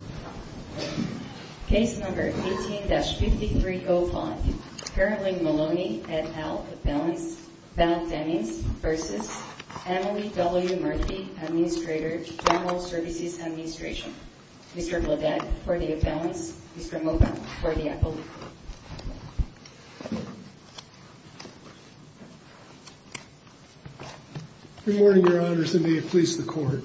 v. Emily W. Murphy, General Services Administration Mr. Bledek for the Aboundance, Mr. Moffat for the Appellate Good morning, Your Honors, and may it please the Court.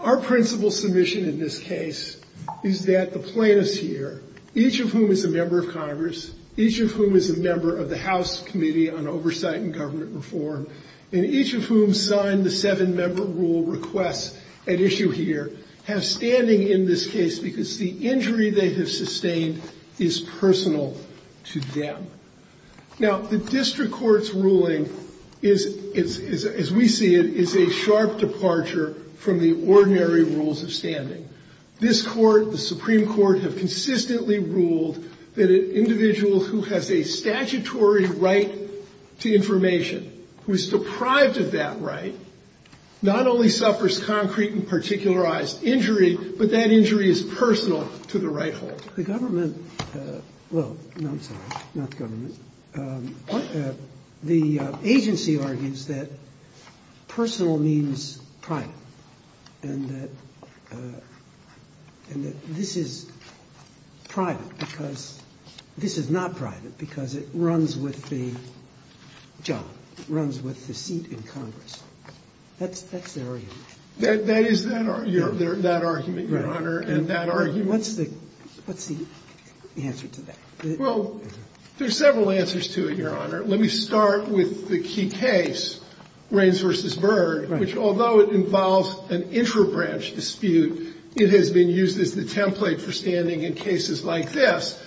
Our principal submission in this case is that the plaintiffs here, each of whom is a member of Congress, each of whom is a member of the House Committee on Oversight and Government Reform, and each of whom signed the seven-member rule request at issue here, have standing in this case because the injury they have sustained is personal to them. Now, the district court's ruling is, as we see it, is a sharp departure from the ordinary rules of standing. This Court, the Supreme Court, have consistently ruled that an individual who has a statutory right to information, who is deprived of that right, not only suffers concrete and particularized injury, but that injury is personal to the right holder. The government, well, no, I'm sorry, not the government, the agency argues that personal means private, and that this is private because this is not private because it runs with the job, runs with the seat in Congress. That's the argument. That is that argument, Your Honor, and that argument. What's the answer to that? Well, there are several answers to it, Your Honor. Let me start with the key case, Raines v. Byrd, which although it involves an intrabranch dispute, it has been used as the template for standing in cases like this.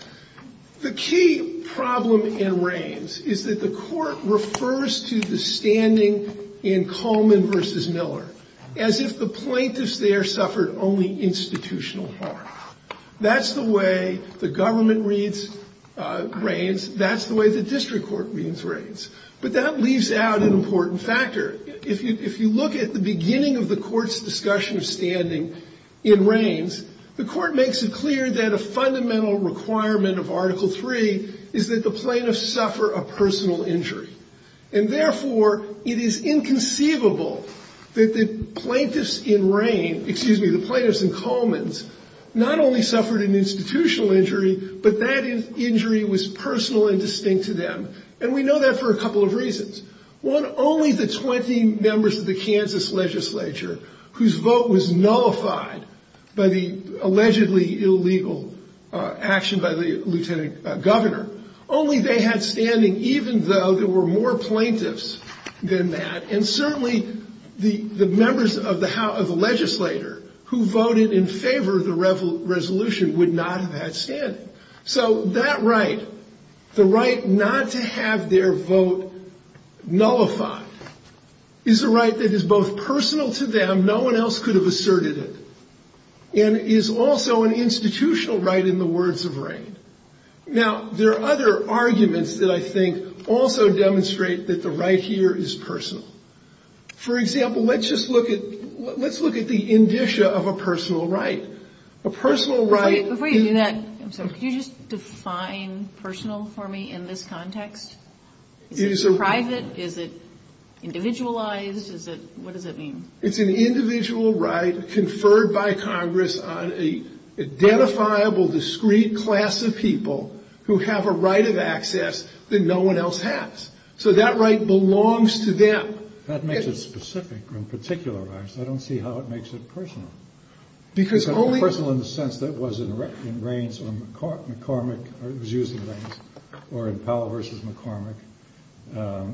The key problem in Raines is that the Court refers to the standing in Coleman v. Miller as if the plaintiffs there suffered only institutional harm. That's the way the government reads Raines. That's the way the district court reads Raines. But that leaves out an important factor. If you look at the beginning of the Court's discussion of standing in Raines, the Court makes it clear that a fundamental requirement of Article III is that the plaintiffs suffer a personal injury. And therefore, it is inconceivable that the plaintiffs in Raines, excuse me, the plaintiffs in Coleman's, not only suffered an institutional injury, but that injury was personal and distinct to them. And we know that for a couple of reasons. One, only the 20 members of the Kansas legislature whose vote was nullified by the allegedly illegal action by the lieutenant governor, only they had standing even though there were more plaintiffs than that. And certainly the members of the legislature who voted in favor of the resolution would not have had standing. So that right, the right not to have their vote nullified, is a right that is both personal to them, no one else could have asserted it, and is also an institutional right in the words of Raines. Now, there are other arguments that I think also demonstrate that the right here is personal. For example, let's just look at the indicia of a personal right. A personal right... Before you do that, I'm sorry, could you just define personal for me in this context? Is it private? Is it individualized? What does it mean? It's an individual right conferred by Congress on an identifiable, discrete class of people who have a right of access that no one else has. So that right belongs to them. That makes it specific, in particular, I don't see how it makes it personal. Because only... It's not personal in the sense that it was in Raines or McCormick, or it was used in Raines, or in Powell versus McCormick,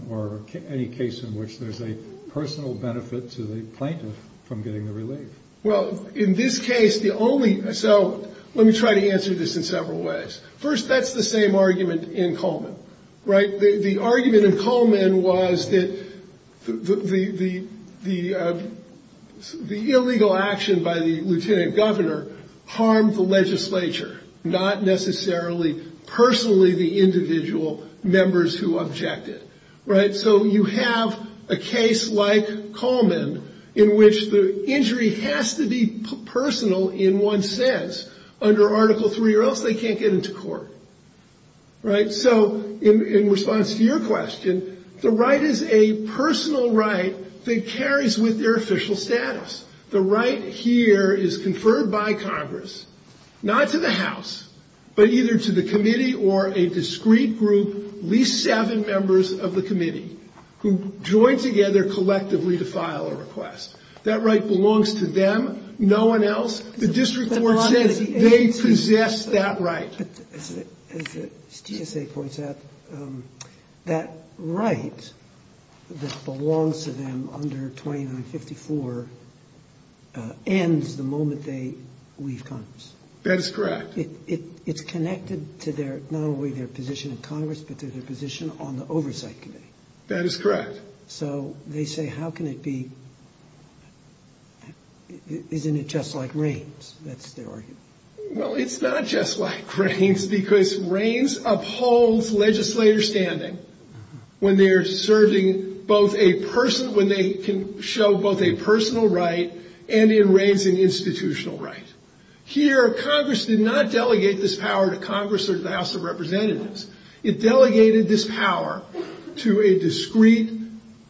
or any case in which there's a personal benefit to the plaintiff from getting the relief. Well, in this case, the only... So let me try to answer this in several ways. First, that's the same argument in Coleman, right? The argument in Coleman was that the illegal action by the lieutenant governor harmed the legislature, not necessarily personally the individual members who objected, right? So you have a case like Coleman in which the injury has to be personal in one sense under Article III, or else they can't get into court, right? So in response to your question, the right is a personal right that carries with their official status. The right here is conferred by Congress, not to the House, but either to the committee or a discrete group, at least seven members of the committee, who join together collectively to file a request. That right belongs to them, no one else. The district court says they possess that right. But as the GSA points out, that right that belongs to them under 2954 ends the moment they leave Congress. That is correct. It's connected to their, not only their position in Congress, but to their position on the Oversight Committee. That is correct. So they say, how can it be, isn't it just like reins? That's their argument. Well, it's not just like reins because reins upholds legislator standing when they're serving both a person, when they can show both a personal right and in reins an institutional right. Here, Congress did not delegate this power to Congress or to the House of Representatives. It delegated this power to a discrete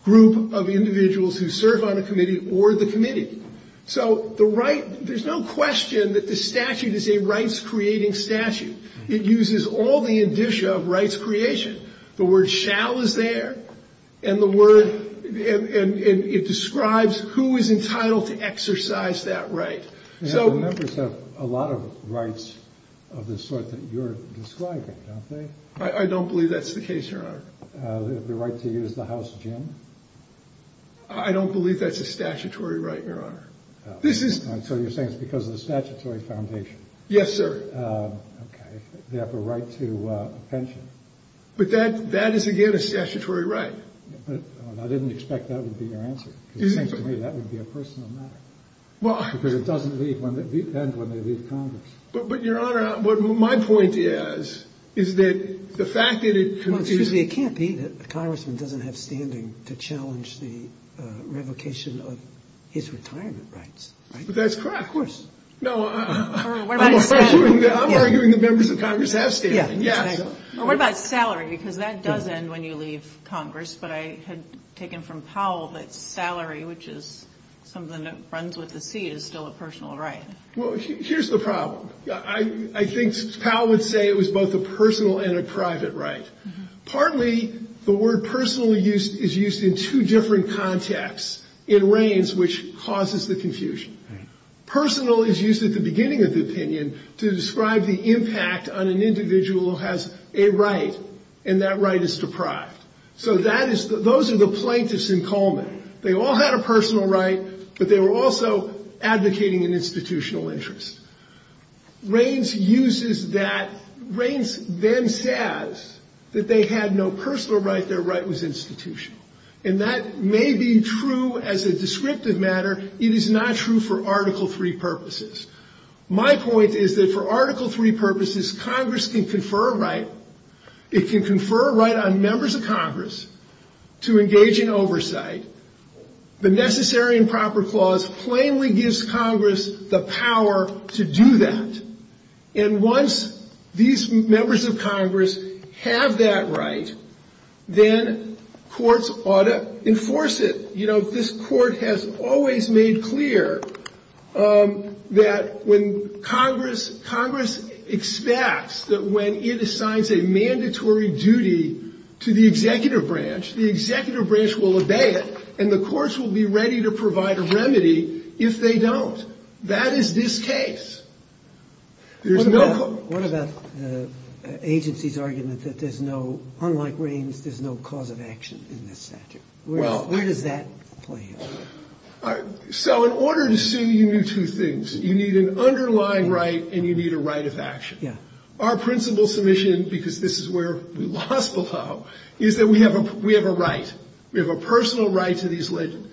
group of individuals who serve on a committee or the committee. So the right, there's no question that the statute is a rights-creating statute. It uses all the indicia of rights creation. The word shall is there, and the word, and it describes who is entitled to exercise that right. Members have a lot of rights of the sort that you're describing, don't they? I don't believe that's the case, Your Honor. The right to use the House gym? I don't believe that's a statutory right, Your Honor. So you're saying it's because of the statutory foundation? Yes, sir. Okay. They have a right to a pension. But that is, again, a statutory right. I didn't expect that would be your answer, because it seems to me that would be a personal matter. Because it doesn't depend when they leave Congress. But, Your Honor, what my point is, is that the fact that it confuses you. It confuses me. It can't be that a congressman doesn't have standing to challenge the revocation of his retirement rights, right? But that's correct. Of course. No, I'm arguing that members of Congress have standing, yes. Or what about salary? Because that does end when you leave Congress. But I had taken from Powell that salary, which is something that runs with the seat, is still a personal right. Well, here's the problem. I think Powell would say it was both a personal and a private right. Partly, the word personal is used in two different contexts in Reins, which causes the confusion. Personal is used at the beginning of the opinion to describe the impact on an individual who has a right, and that right is deprived. So those are the plaintiffs in Coleman. They all had a personal right, but they were also advocating an institutional interest. Reins uses that. Reins then says that they had no personal right. Their right was institutional. And that may be true as a descriptive matter. It is not true for Article III purposes. My point is that for Article III purposes, Congress can confer a right. The Necessary and Proper Clause plainly gives Congress the power to do that. And once these members of Congress have that right, then courts ought to enforce it. You know, this court has always made clear that when Congress expects that when it assigns a mandatory duty to the executive branch, the executive branch will obey it. And the courts will be ready to provide a remedy if they don't. That is this case. What about the agency's argument that there's no, unlike Reins, there's no cause of action in this statute? Where does that play in? So in order to sue, you need two things. You need an underlying right, and you need a right of action. Our principal submission, because this is where we lost below, is that we have a right. We have a personal right to these legends.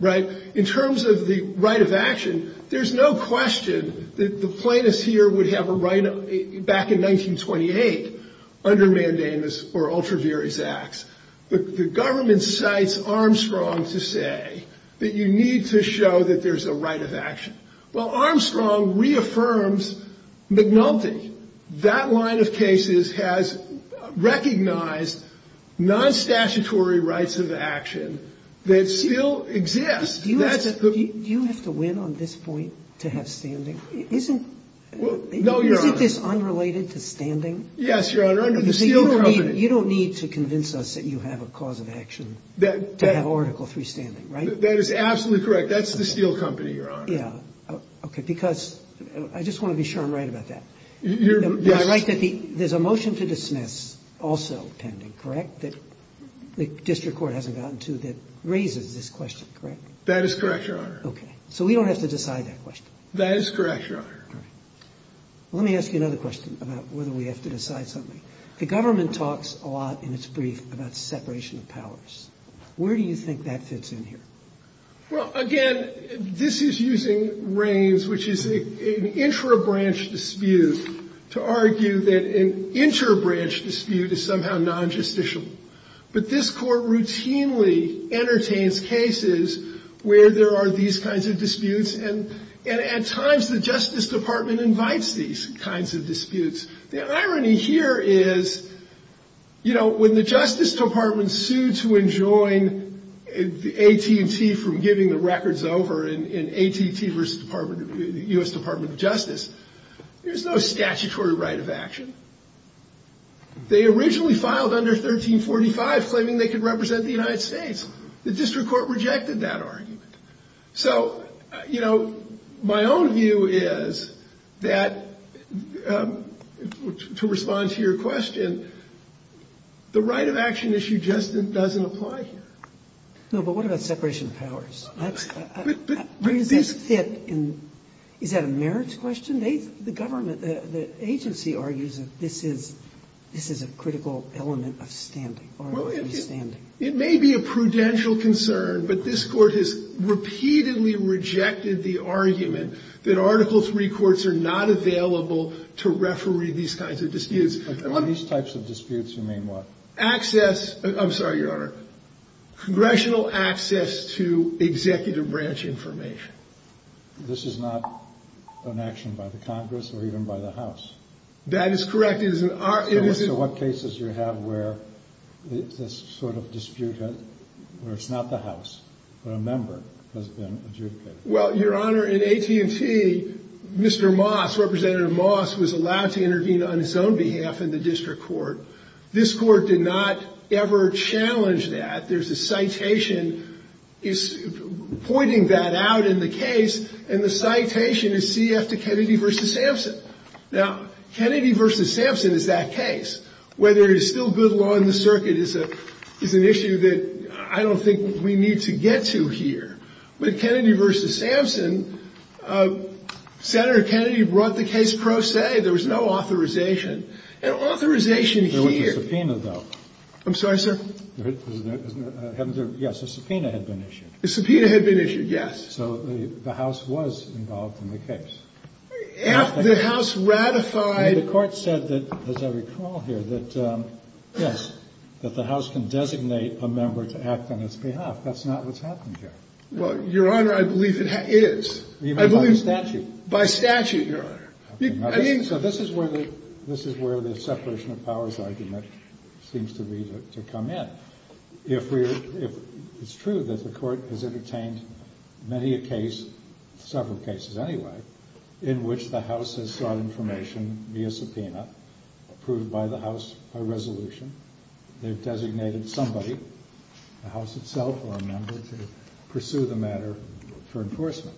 In terms of the right of action, there's no question that the plaintiffs here would have a right back in 1928 under mandamus or ultraviarious acts. The government cites Armstrong to say that you need to show that there's a right of action. Well, Armstrong reaffirms McNulty. That line of cases has recognized nonstatutory rights of action that still exist. Do you have to win on this point to have standing? Isn't this unrelated to standing? Yes, Your Honor. You don't need to convince us that you have a cause of action to have Article III standing, right? That is absolutely correct. That's the steel company, Your Honor. Yeah. Okay. Because I just want to be sure I'm right about that. You're right that there's a motion to dismiss also pending, correct, that the district court hasn't gotten to that raises this question, correct? That is correct, Your Honor. So we don't have to decide that question. That is correct, Your Honor. Let me ask you another question about whether we have to decide something. The government talks a lot in its brief about separation of powers. Where do you think that fits in here? Well, again, this is using Reins, which is an intra-branch dispute, to argue that an inter-branch dispute is somehow non-justicial. But this Court routinely entertains cases where there are these kinds of disputes. And at times the Justice Department invites these kinds of disputes. The irony here is, you know, when the Justice Department sued to enjoin AT&T from giving the records over in AT&T versus the U.S. Department of Justice, there's no statutory right of action. They originally filed under 1345 claiming they could represent the United States. The district court rejected that argument. So, you know, my own view is that, to respond to your question, the right of action issue just doesn't apply here. No, but what about separation of powers? Where does that fit in? Is that a marriage question? The government, the agency argues that this is a critical element of standing or of free standing. It may be a prudential concern, but this Court has repeatedly rejected the argument that Article III courts are not available to referee these kinds of disputes. On these types of disputes, you mean what? Access. I'm sorry, Your Honor. Congressional access to executive branch information. This is not an action by the Congress or even by the House. That is correct. So what cases do you have where this sort of dispute, where it's not the House, but a member has been adjudicated? Well, Your Honor, in AT&T, Mr. Moss, Representative Moss, was allowed to intervene on his own behalf in the district court. This court did not ever challenge that. There's a citation pointing that out in the case, and the citation is CF to Kennedy versus Sampson. Now, Kennedy versus Sampson is that case. Whether it is still good law in the circuit is an issue that I don't think we need to get to here. But Kennedy versus Sampson, Senator Kennedy brought the case pro se. There was no authorization. An authorization here. There was a subpoena, though. I'm sorry, sir? Yes, a subpoena had been issued. A subpoena had been issued, yes. So the House was involved in the case. The House ratified. And the Court said that, as I recall here, that, yes, that the House can designate a member to act on its behalf. That's not what's happening here. Well, Your Honor, I believe it is. Even by statute. By statute, Your Honor. So this is where the separation of powers argument seems to be to come in. It's true that the Court has entertained many a case, several cases anyway, in which the House has sought information via subpoena approved by the House by resolution. They've designated somebody, the House itself or a member, to pursue the matter for enforcement.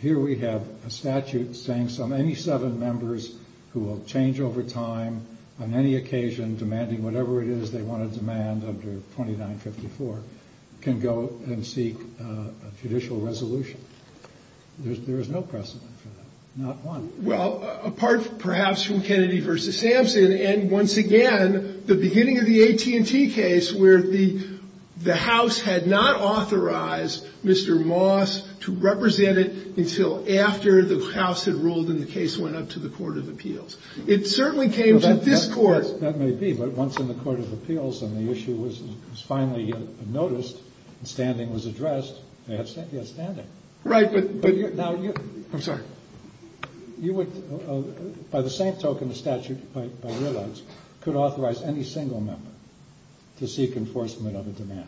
Here we have a statute saying any seven members who will change over time on any occasion, demanding whatever it is they want to demand under 2954, can go and seek a judicial resolution. There is no precedent for that. Not one. Well, apart perhaps from Kennedy v. Sampson and, once again, the beginning of the AT&T case, where the House had not authorized Mr. Moss to represent it until after the House had ruled and the case went up to the Court of Appeals. It certainly came to this Court. Yes, that may be. But once in the Court of Appeals and the issue was finally noticed and standing was addressed, they had standing. Right. I'm sorry. You would, by the same token, the statute, by your rights, could authorize any single member to seek enforcement of a demand.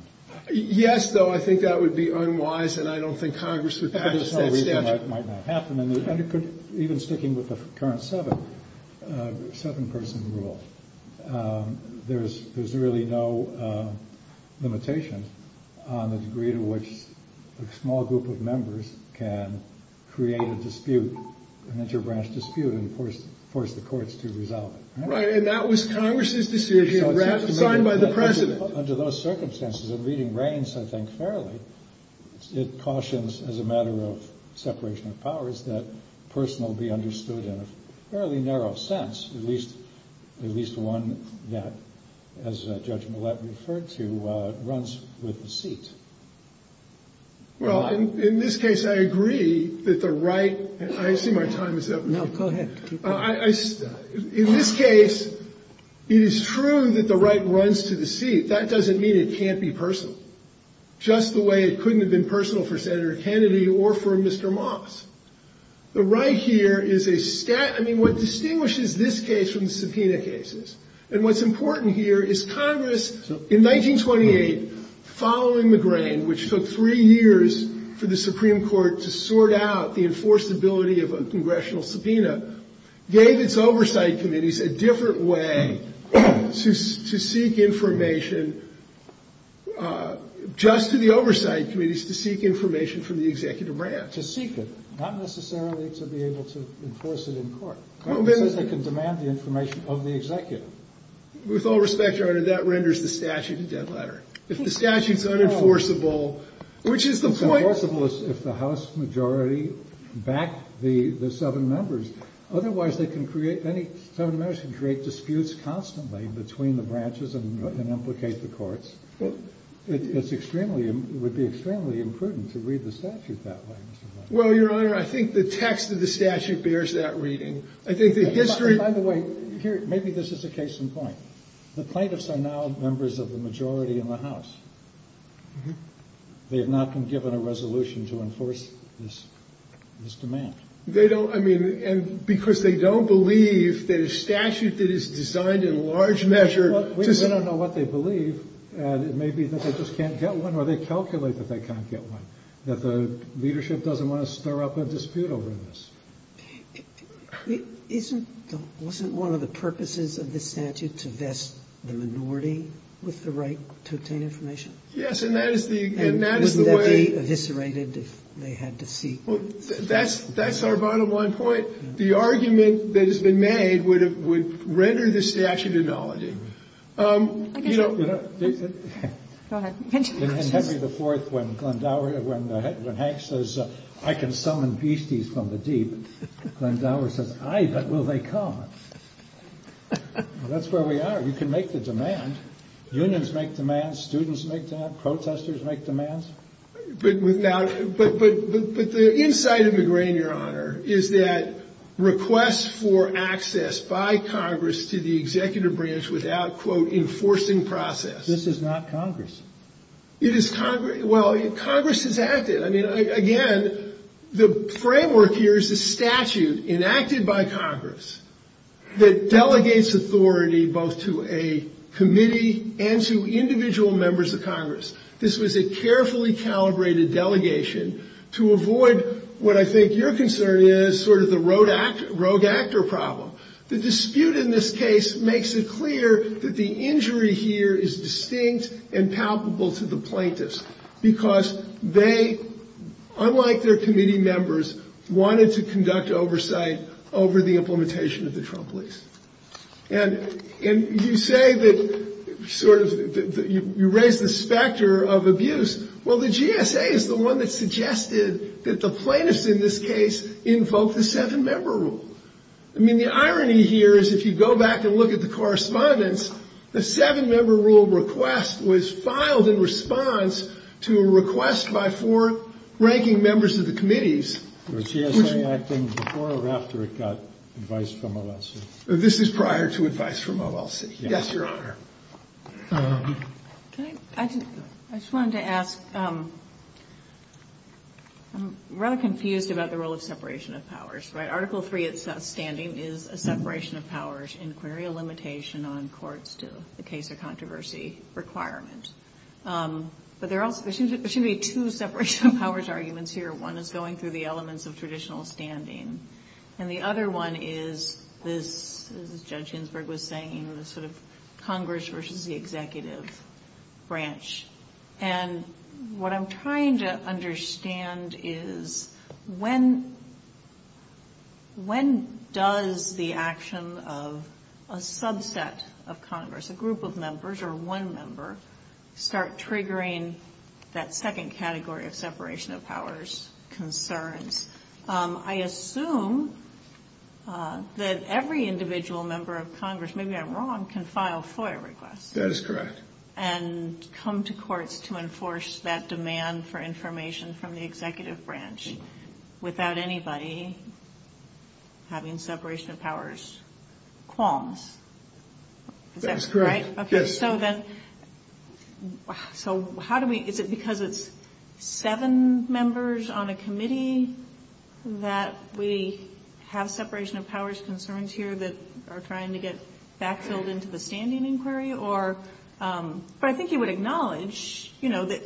Yes, though I think that would be unwise, and I don't think Congress would pass that statute. Even sticking with the current seven-person rule, there's really no limitation on the degree to which a small group of members can create a dispute, an interbranch dispute, and force the courts to resolve it. Right, and that was Congress's decision, ratified by the President. Under those circumstances, it reading reigns, I think, fairly. It cautions, as a matter of separation of powers, that personal be understood in a fairly narrow sense, at least one that, as Judge Millett referred to, runs with the seat. Well, in this case, I agree that the right – I see my time is up. No, go ahead. In this case, it is true that the right runs to the seat. That doesn't mean it can't be personal, just the way it couldn't have been personal for Senator Kennedy or for Mr. Moss. The right here is a – I mean, what distinguishes this case from the subpoena cases, and what's important here is Congress, in 1928, following McGrane, which took three years for the Supreme Court to sort out the enforceability of a congressional subpoena, gave its oversight committees a different way to seek information, just to the oversight committees, to seek information from the executive branch. To seek it, not necessarily to be able to enforce it in court. Congress says they can demand the information of the executive. With all respect, Your Honor, that renders the statute a dead letter. If the statute's unenforceable, which is the point – It's enforceable if the House majority back the seven members. Otherwise, they can create – any seven members can create disputes constantly between the branches and implicate the courts. It's extremely – it would be extremely imprudent to read the statute that way. Well, Your Honor, I think the text of the statute bears that reading. I think the history – By the way, here – maybe this is a case in point. The plaintiffs are now members of the majority in the House. They have not been given a resolution to enforce this demand. They don't – I mean, because they don't believe that a statute that is designed in large measure to – Well, we don't know what they believe. It may be that they just can't get one, or they calculate that they can't get one, that the leadership doesn't want to stir up a dispute over this. Isn't the – wasn't one of the purposes of this statute to vest the minority with the right to obtain information? Yes, and that is the way – And wouldn't that be eviscerated if they had to seek – Well, that's our bottom-line point. The argument that has been made would render this statute acknowledging. You know – Go ahead. In Henry IV, when Glenn Dower – when Hank says, I can summon beasties from the deep, Glenn Dower says, Aye, but will they come? That's where we are. You can make the demand. Unions make demands. Students make demands. Protestors make demands. But now – but the inside of the grain, Your Honor, is that requests for access by Congress to the executive branch without, quote, enforcing process – This is not Congress. It is – well, Congress has acted. I mean, again, the framework here is the statute enacted by Congress that delegates authority both to a committee and to individual members of Congress. This was a carefully calibrated delegation to avoid what I think your concern is, sort of the rogue actor problem. The dispute in this case makes it clear that the injury here is distinct and palpable to the plaintiffs because they, unlike their committee members, wanted to conduct oversight over the implementation of the Trump lease. And you say that sort of – you raise the specter of abuse. Well, the GSA is the one that suggested that the plaintiffs in this case invoke the seven-member rule. I mean, the irony here is if you go back and look at the correspondence, the seven-member rule request was filed in response to a request by four ranking members of the committees. Was GSA acting before or after it got advice from OLC? This is prior to advice from OLC. Yes, Your Honor. I just wanted to ask – I'm rather confused about the role of separation of powers. Article 3 of standing is a separation of powers, inquiry or limitation on courts to the case or controversy requirement. But there should be two separation of powers arguments here. One is going through the elements of traditional standing, and the other one is this, as Judge Ginsburg was saying, sort of Congress versus the executive branch. And what I'm trying to understand is when does the action of a subset of Congress, a group of members or one member, start triggering that second category of separation of powers concerns? I assume that every individual member of Congress, maybe I'm wrong, can file FOIA requests. That is correct. And come to courts to enforce that demand for information from the executive branch without anybody having separation of powers qualms. That is correct. Okay. So then how do we – is it because it's seven members on a committee that we have separation of powers concerns here that are trying to get backfilled into the standing inquiry or – but I think you would acknowledge, you know, that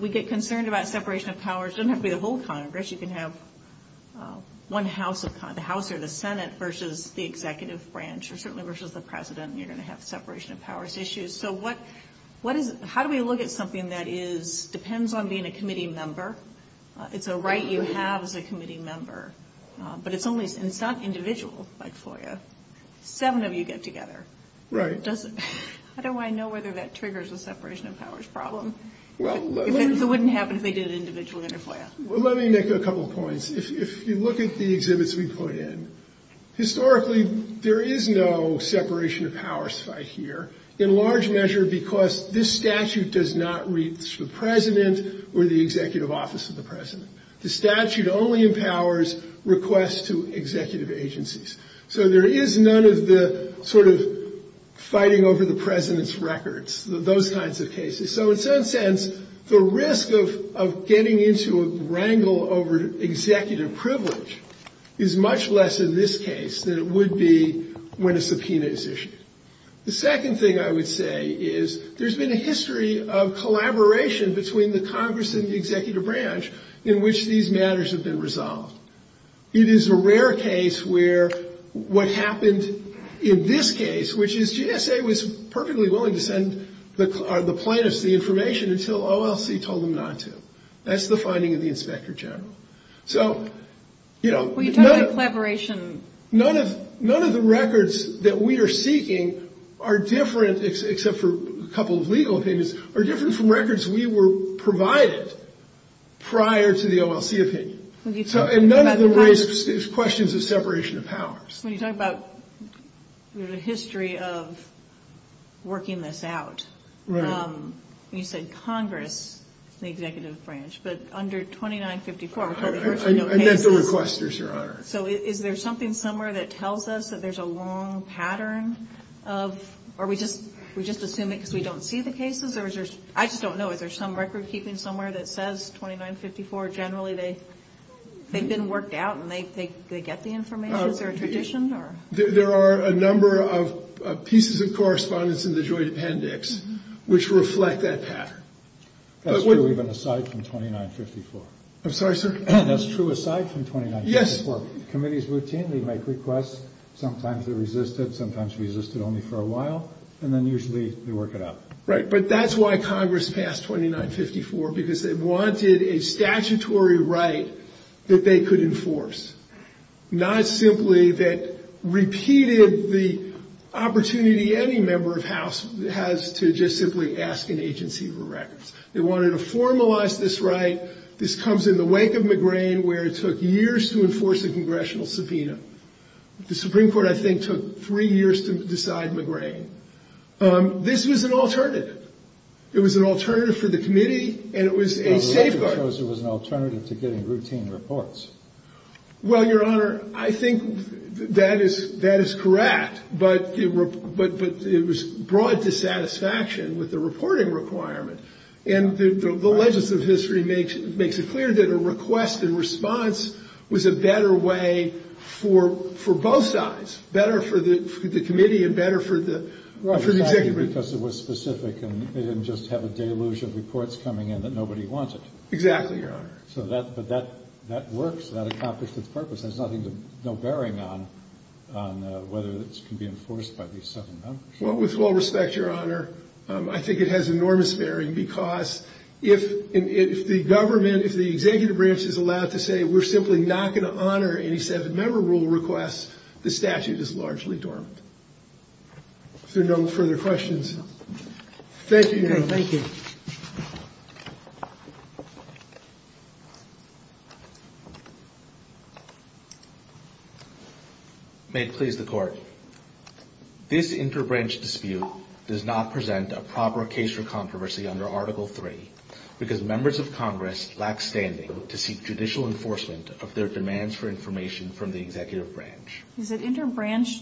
we get concerned about separation of powers. It doesn't have to be the whole Congress. You can have one House of – the House or the Senate versus the executive branch or certainly versus the President. You're going to have separation of powers issues. So what is – how do we look at something that is – depends on being a committee member? It's a right you have as a committee member. But it's only – and it's not individual like FOIA. Seven of you get together. Right. How do I know whether that triggers a separation of powers problem? It wouldn't happen if they did it individually under FOIA. Well, let me make a couple of points. If you look at the exhibits we put in, historically there is no separation of powers fight here, in large measure because this statute does not reach the President or the executive office of the President. The statute only empowers requests to executive agencies. So there is none of the sort of fighting over the President's records, those kinds of cases. So in some sense, the risk of getting into a wrangle over executive privilege is much less in this case than it would be when a subpoena is issued. The second thing I would say is there's been a history of collaboration between the Congress and the executive branch in which these matters have been resolved. It is a rare case where what happened in this case, which is GSA was perfectly willing to send the plaintiffs the information until OLC told them not to. That's the finding of the inspector general. So, you know, none of the records that we are seeking are different, except for a couple of legal opinions, are different from records we were provided prior to the OLC opinion. And none of them raise questions of separation of powers. When you talk about the history of working this out, you said Congress and the executive branch. But under 2954, we're told there are no cases. I meant the requesters, Your Honor. So is there something somewhere that tells us that there's a long pattern of, or we just assume it because we don't see the cases? I just don't know. Is there some record keeping somewhere that says 2954? Generally they've been worked out and they get the information? Is there a tradition? There are a number of pieces of correspondence in the Joint Appendix which reflect that pattern. That's true even aside from 2954. I'm sorry, sir? That's true aside from 2954. Committees routinely make requests. Sometimes they resist it. Sometimes they resist it only for a while. And then usually they work it out. Right. But that's why Congress passed 2954, because they wanted a statutory right that they could enforce, not simply that repeated the opportunity any member of House has to just simply ask an agency for records. They wanted to formalize this right. This comes in the wake of McGrane, where it took years to enforce a congressional subpoena. The Supreme Court, I think, took three years to decide McGrane. This was an alternative. It was an alternative for the committee and it was a safeguard. It was an alternative to getting routine reports. Well, Your Honor, I think that is correct. But it was brought to satisfaction with the reporting requirement. And the legends of history makes it clear that a request and response was a better way for both sides, better for the committee and better for the executive branch. Because it was specific and they didn't just have a deluge of reports coming in that nobody wanted. Exactly, Your Honor. But that works. That accomplished its purpose. There's no bearing on whether this can be enforced by these seven members. With all respect, Your Honor, I think it has enormous bearing because if the government, if the executive branch is allowed to say, we're simply not going to honor any seven-member rule requests, the statute is largely dormant. Is there no further questions? Thank you, Your Honor. Thank you. May it please the Court. This inter-branch dispute does not present a proper case for controversy under Article III because members of Congress lack standing to seek judicial enforcement of their demands for information from the executive branch. Is it inter-branch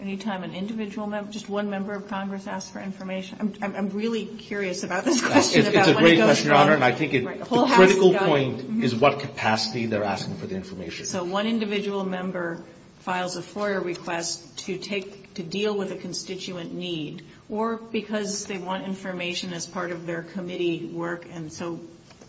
any time an individual member, just one member of Congress asks for information? I'm really curious about this question. It's a great question, Your Honor. And I think the critical point is what capacity they're asking for the information. So one individual member files a FOIA request to deal with a constituent need or because they want information as part of their committee work and so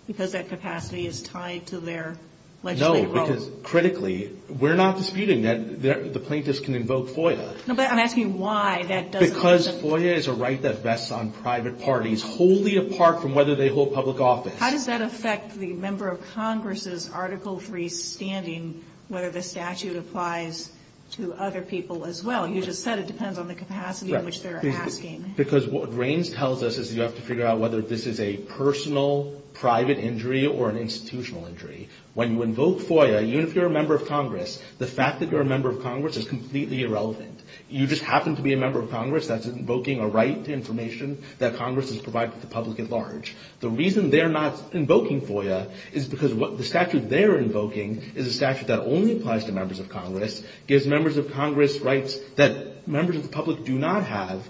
because that capacity is tied to their legislative role. No, because critically, we're not disputing that the plaintiffs can invoke FOIA. No, but I'm asking why that doesn't. Because FOIA is a right that rests on private parties, wholly apart from whether they hold public office. How does that affect the member of Congress' Article III standing, whether the statute applies to other people as well? You just said it depends on the capacity in which they're asking. Because what Reins tells us is you have to figure out whether this is a personal, private injury or an institutional injury. When you invoke FOIA, even if you're a member of Congress, the fact that you're a member of Congress is completely irrelevant. You just happen to be a member of Congress that's invoking a right to information that Congress has provided to the public at large. The reason they're not invoking FOIA is because the statute they're invoking is a statute that only applies to members of Congress, gives members of Congress rights that members of the public do not have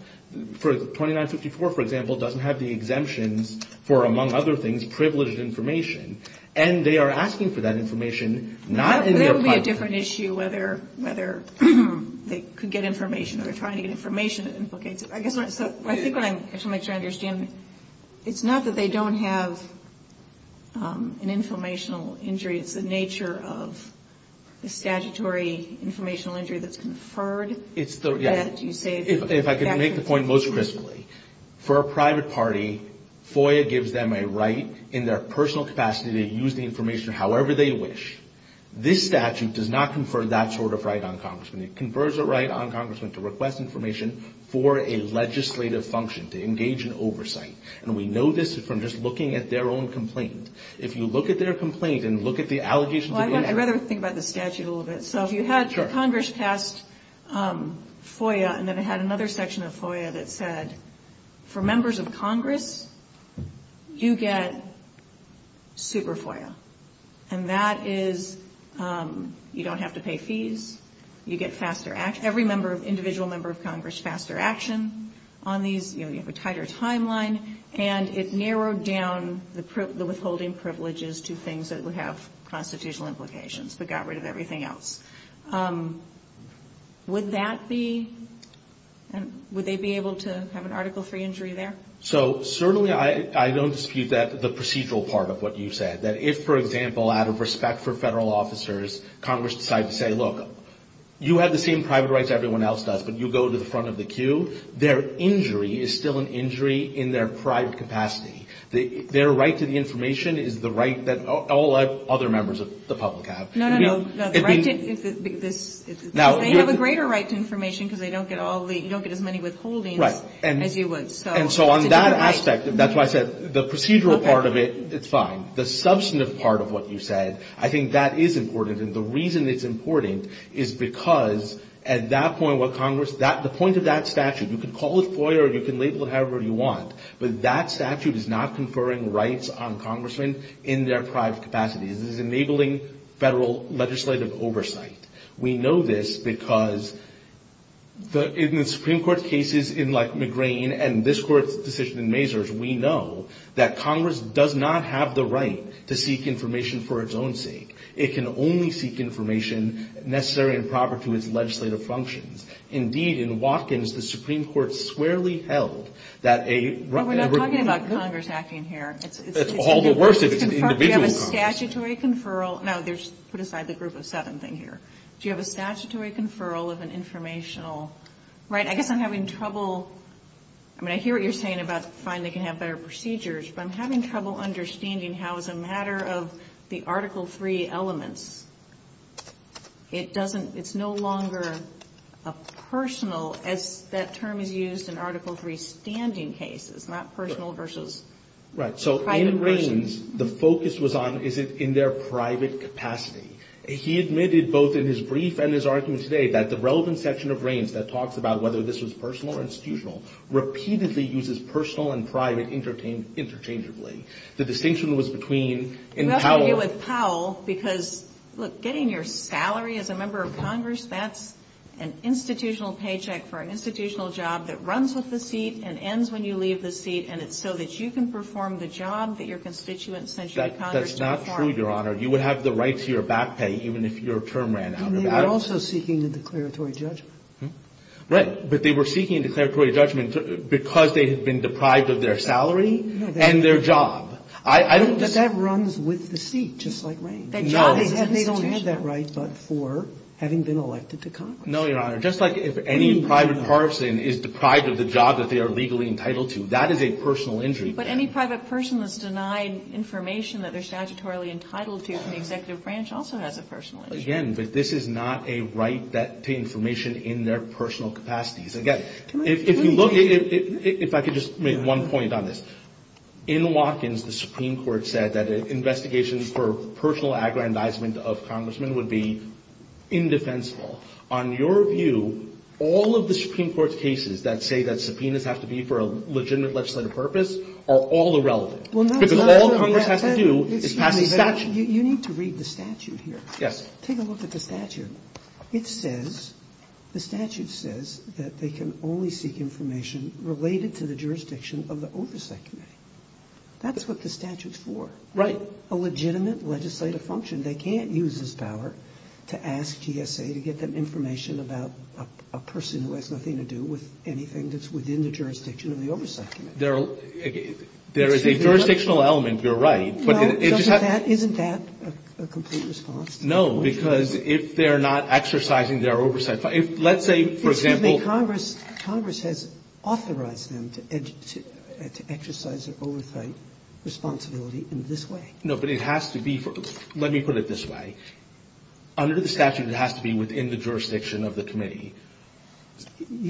For 2954, for example, doesn't have the exemptions for, among other things, privileged information. And they are asking for that information not in their privacy. There would be a different issue whether they could get information or they're trying to get information that implicates it. I think what I'm trying to make sure I understand, it's not that they don't have an informational injury. It's the nature of the statutory informational injury that's conferred. If I could make the point most crisply, for a private party, FOIA gives them a right in their personal capacity to use the information however they wish. This statute does not confer that sort of right on Congressmen. It confers a right on Congressmen to request information for a legislative function, to engage in oversight. And we know this from just looking at their own complaint. If you look at their complaint and look at the allegations of inaction. I'd rather think about the statute a little bit. So if you had Congress pass FOIA and then it had another section of FOIA that said, for members of Congress, you get super FOIA. And that is you don't have to pay fees. You get faster action. Every individual member of Congress, faster action on these. You have a tighter timeline. And it narrowed down the withholding privileges to things that would have constitutional implications, but got rid of everything else. Would that be, would they be able to have an Article III injury there? So certainly I don't dispute that, the procedural part of what you said. That if, for example, out of respect for federal officers, Congress decided to say, look, you have the same private rights everyone else does, but you go to the front of the queue. Their injury is still an injury in their private capacity. Their right to the information is the right that all other members of the public have. No, no, no. They have a greater right to information because they don't get all the, you don't get as many withholdings as you would. And so on that aspect, that's why I said the procedural part of it, it's fine. The substantive part of what you said, I think that is important. And the reason it's important is because at that point what Congress, the point of that statute, you can call it FOIA or you can label it however you want, but that statute is not conferring rights on congressmen in their private capacities. This is enabling federal legislative oversight. We know this because in the Supreme Court cases in McGrane and this Court's decision in Mazars, we know that Congress does not have the right to seek information for its own sake. It can only seek information necessary and proper to its legislative functions. Indeed, in Watkins, the Supreme Court swearly held that a... Well, we're not talking about Congress acting here. It's all the worse if it's an individual Congress. Do you have a statutory conferral? No, put aside the group of seven thing here. Do you have a statutory conferral of an informational... Right, I guess I'm having trouble... I mean, I hear what you're saying about fine, they can have better procedures, but I'm having trouble understanding how as a matter of the Article III elements, it doesn't, it's no longer a personal, as that term is used in Article III standing cases, not personal versus private persons. Right, so in Raines, the focus was on is it in their private capacity. He admitted both in his brief and his argument today that the relevant section of Raines that talks about whether this was personal or institutional repeatedly uses personal and private interchangeably. The distinction was between in Powell... Look, getting your salary as a member of Congress, that's an institutional paycheck for an institutional job that runs with the seat and ends when you leave the seat, and it's so that you can perform the job that your constituents sent you to Congress to perform. That's not true, Your Honor. You would have the right to your back pay even if your term ran out. And they were also seeking a declaratory judgment. Right, but they were seeking a declaratory judgment because they had been deprived of their salary and their job. But that runs with the seat, just like Raines. No. And they don't have that right but for having been elected to Congress. No, Your Honor. Just like if any private person is deprived of the job that they are legally entitled to, that is a personal injury. But any private person that's denied information that they're statutorily entitled to from the executive branch also has a personal injury. Again, but this is not a right to information in their personal capacities. Again, if you look at it... If I could just make one point on this. In Watkins, the Supreme Court said that an investigation for personal aggrandizement of congressmen would be indefensible. On your view, all of the Supreme Court's cases that say that subpoenas have to be for a legitimate legislative purpose are all irrelevant. Because all Congress has to do is pass a statute. You need to read the statute here. Yes. Take a look at the statute. It says... The statute says that they can only seek information related to the jurisdiction of the oversight committee. That's what the statute's for. Right. A legitimate legislative function. They can't use this power to ask GSA to get them information about a person who has nothing to do with anything that's within the jurisdiction of the oversight committee. There is a jurisdictional element. You're right. Isn't that a complete response? No, because if they're not exercising their oversight... Let's say, for example... Excuse me. Congress has authorized them to exercise their oversight responsibility in this way. No, but it has to be... Let me put it this way. Under the statute, it has to be within the jurisdiction of the committee.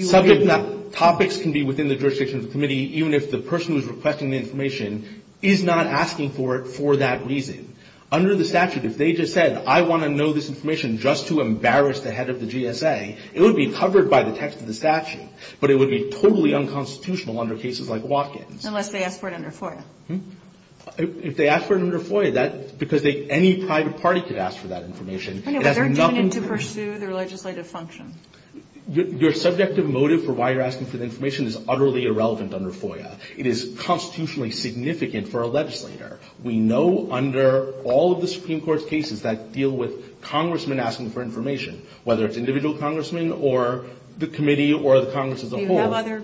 Subjects... Topics can be within the jurisdiction of the committee, even if the person who's requesting the information is not asking for it for that reason. Under the statute, if they just said, I want to know this information just to embarrass the head of the GSA, it would be covered by the text of the statute. But it would be totally unconstitutional under cases like Watkins. Unless they ask for it under FOIA. If they ask for it under FOIA, because any private party could ask for that information... They're doing it to pursue their legislative function. Your subjective motive for why you're asking for the information is utterly irrelevant under FOIA. It is constitutionally significant for a legislator. We know under all of the Supreme Court's cases that deal with congressmen asking for information, whether it's individual congressmen or the committee or the Congress as a whole... Do you have other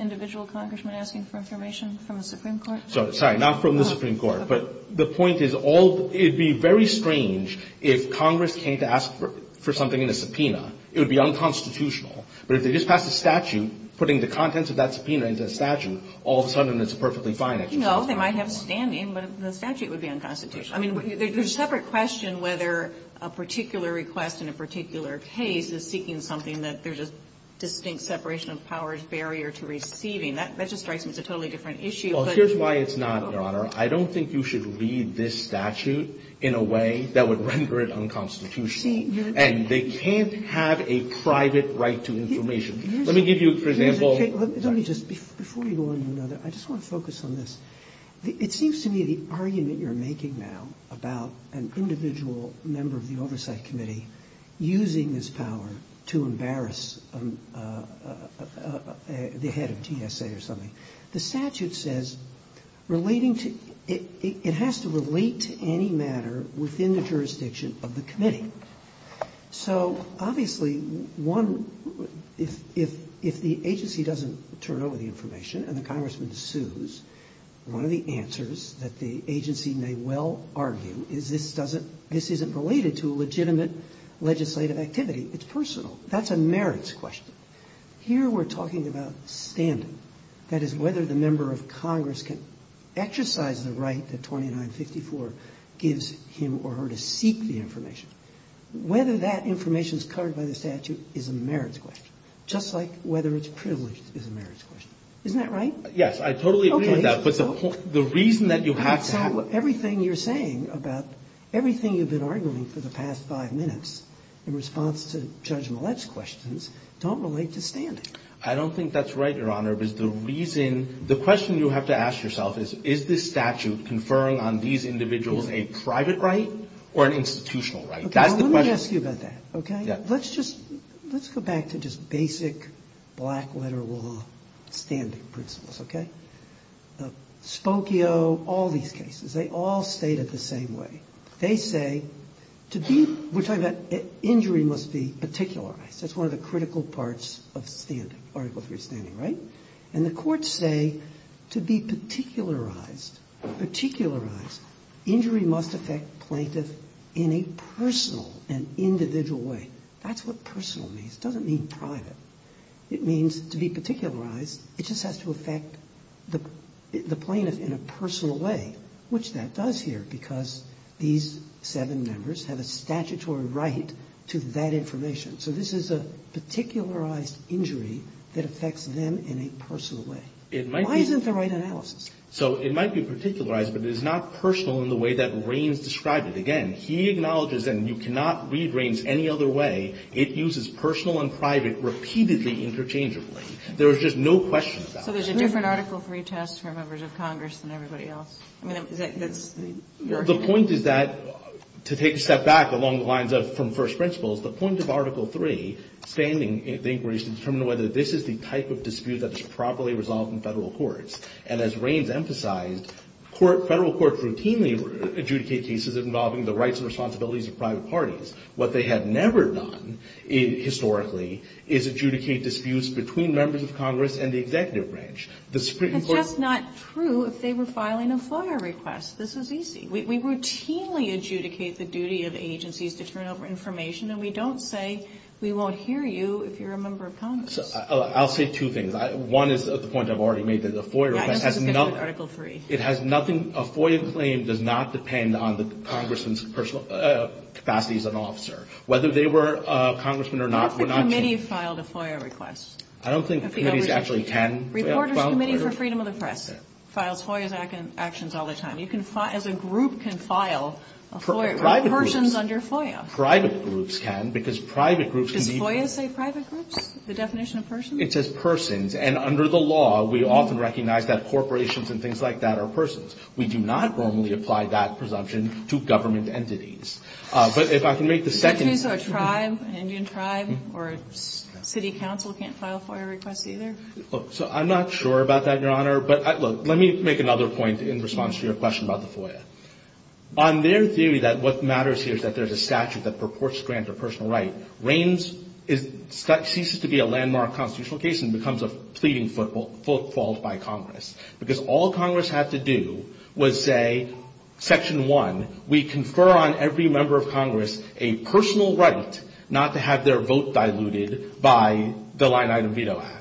individual congressmen asking for information from the Supreme Court? Sorry, not from the Supreme Court. But the point is all... It would be very strange if Congress came to ask for something in a subpoena. It would be unconstitutional. No, they might have standing, but the statute would be unconstitutional. I mean, there's a separate question whether a particular request in a particular case is seeking something that there's a distinct separation of powers barrier to receiving. That just strikes me as a totally different issue. Well, here's why it's not, Your Honor. I don't think you should read this statute in a way that would render it unconstitutional. And they can't have a private right to information. Let me give you, for example... Before you go on to another, I just want to focus on this. It seems to me the argument you're making now about an individual member of the Oversight Committee using this power to embarrass the head of GSA or something, the statute says it has to relate to any matter within the jurisdiction of the committee. So obviously, if the agency doesn't turn over the information and the congressman sues, one of the answers that the agency may well argue is this isn't related to a legitimate legislative activity. It's personal. That's a merits question. Here we're talking about standing. That is, whether the member of Congress can exercise the right that 2954 gives him or her to seek the information. Whether that information is covered by the statute is a merits question, just like whether it's privileged is a merits question. Isn't that right? Yes, I totally agree with that. Okay. But the reason that you have to have... Everything you're saying about everything you've been arguing for the past five minutes in response to Judge Millett's questions don't relate to standing. I don't think that's right, Your Honor, because the reason... The question you have to ask yourself is, is this statute conferring on these a private right or an institutional right? That's the question. Okay, well, let me ask you about that, okay? Yeah. Let's just... Let's go back to just basic black letter law standing principles, okay? Spokio, all these cases, they all state it the same way. They say to be... We're talking about injury must be particularized. That's one of the critical parts of standing, Article III standing, right? And the courts say to be particularized. Injury must affect plaintiff in a personal and individual way. That's what personal means. It doesn't mean private. It means to be particularized. It just has to affect the plaintiff in a personal way, which that does here because these seven members have a statutory right to that information. So this is a particularized injury that affects them in a personal way. It might be... Why isn't the right analysis? So it might be particularized, but it is not personal in the way that Raines described it. Again, he acknowledges, and you cannot read Raines any other way, it uses personal and private repeatedly interchangeably. There is just no question about it. So there's a different Article III test for members of Congress than everybody else? I mean, is that... The point is that, to take a step back along the lines of from first principles, the point of Article III standing the inquiries to determine whether this is the type of dispute that is properly resolved in Federal courts. And as Raines emphasized, Federal courts routinely adjudicate cases involving the rights and responsibilities of private parties. What they have never done historically is adjudicate disputes between members of Congress and the executive branch. The Supreme Court... That's just not true if they were filing a FOIA request. This is easy. We routinely adjudicate the duty of agencies to turn over information, and we don't say we won't hear you if you're a member of Congress. I'll say two things. One is the point I've already made, that a FOIA request has nothing... I just want to get to Article III. It has nothing... A FOIA claim does not depend on the Congressman's capacities as an officer. Whether they were a Congressman or not... What if the committee filed a FOIA request? I don't think committees actually can... Reporters Committee for Freedom of the Press files FOIA actions all the time. You can file... As a group can file a FOIA request... Private groups... Persons under FOIA. Private groups can, because private groups can be... Does FOIA say private groups, the definition of persons? It says persons. And under the law, we often recognize that corporations and things like that are persons. We do not normally apply that presumption to government entities. But if I can make the second... So a tribe, an Indian tribe or a city council can't file FOIA requests either? So I'm not sure about that, Your Honor. But look, let me make another point in response to your question about the FOIA. On their theory that what matters here is that there's a statute that purports to grant a personal right, Reins ceases to be a landmark constitutional case and becomes a pleading fault by Congress. Because all Congress had to do was say, Section 1, we confer on every member of Congress a personal right not to have their vote diluted by the Line Item Veto Act.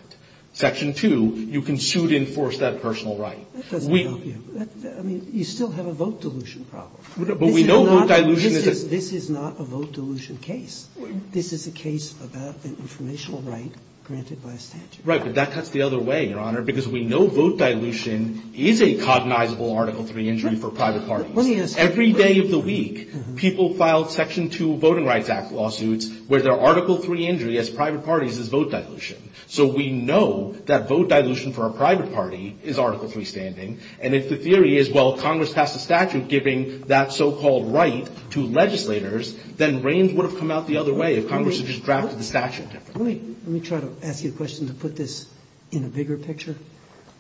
Section 2, you can suit-enforce that personal right. That doesn't help you. I mean, you still have a vote dilution problem. But we know vote dilution is a... This is not a vote dilution case. This is a case about an informational right granted by a statute. Right. But that cuts the other way, Your Honor, because we know vote dilution is a cognizable Article III injury for private parties. Let me ask you. Every day of the week, people file Section 2 Voting Rights Act lawsuits where their Article III injury as private parties is vote dilution. So we know that vote dilution for a private party is Article III standing. And if the theory is, well, Congress passed a statute giving that so-called right to legislators, then Reins would have come out the other way if Congress had just drafted the statute differently. Let me try to ask you a question to put this in a bigger picture.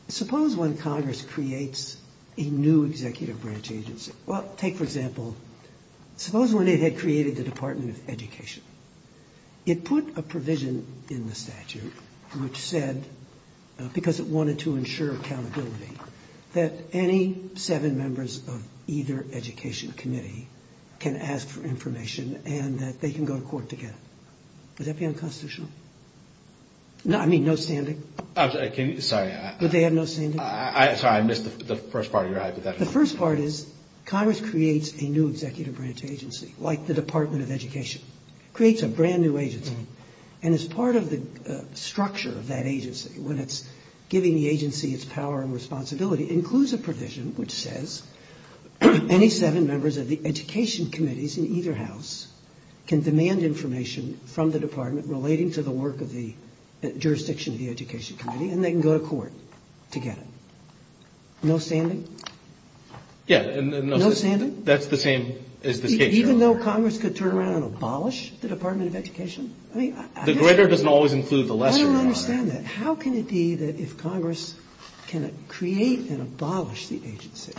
Suppose when Congress creates a new executive branch agency. Well, take, for example, suppose when it had created the Department of Education. It put a provision in the statute which said, because it wanted to ensure accountability, that any seven members of either education committee can ask for information and that they can go to court to get it. Would that be unconstitutional? I mean, no standing? I'm sorry. Would they have no standing? I'm sorry. I missed the first part of your argument. The first part is Congress creates a new executive branch agency, like the Department of Education. It creates a brand new agency. And as part of the structure of that agency, when it's giving the agency its power and responsibility, it includes a provision which says any seven members of the education committees in either house can demand information from the department relating to the work of the jurisdiction of the education committee, and they can go to court to get it. No standing? Yeah. No standing? That's the same as the case. Even though Congress could turn around and abolish the Department of Education? The greater doesn't always include the lesser. I don't understand that. How can it be that if Congress can create and abolish the agency,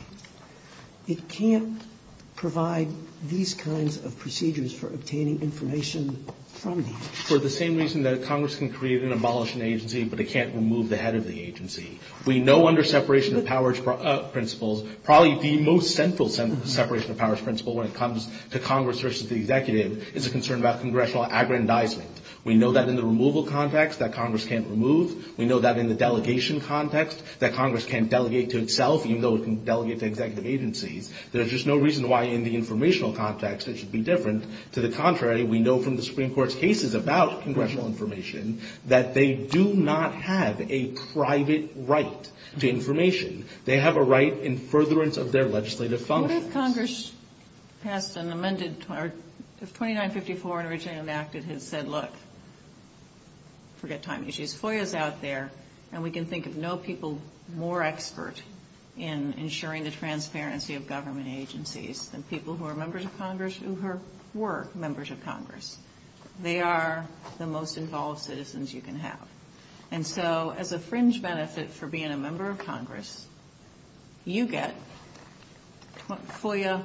it can't provide these kinds of procedures for obtaining information from the agency? For the same reason that Congress can create and abolish an agency, but it can't remove the head of the agency. We know under separation of powers principles, probably the most central separation of powers principle when it comes to Congress versus the executive is a concern about congressional aggrandizement. We know that in the removal context that Congress can't remove. We know that in the delegation context that Congress can't delegate to itself, even though it can delegate to executive agencies. There's just no reason why in the informational context it should be different. To the contrary, we know from the Supreme Court's cases about congressional information that they do not have a private right to information. They have a right in furtherance of their legislative functions. What if Congress passed an amended, or if 2954 originally enacted had said, look, forget time issues, FOIA's out there, and we can think of no people more expert in ensuring the transparency of government agencies than people who are members of Congress who were members of Congress. They are the most involved citizens you can have. And so as a fringe benefit for being a member of Congress, you get FOIA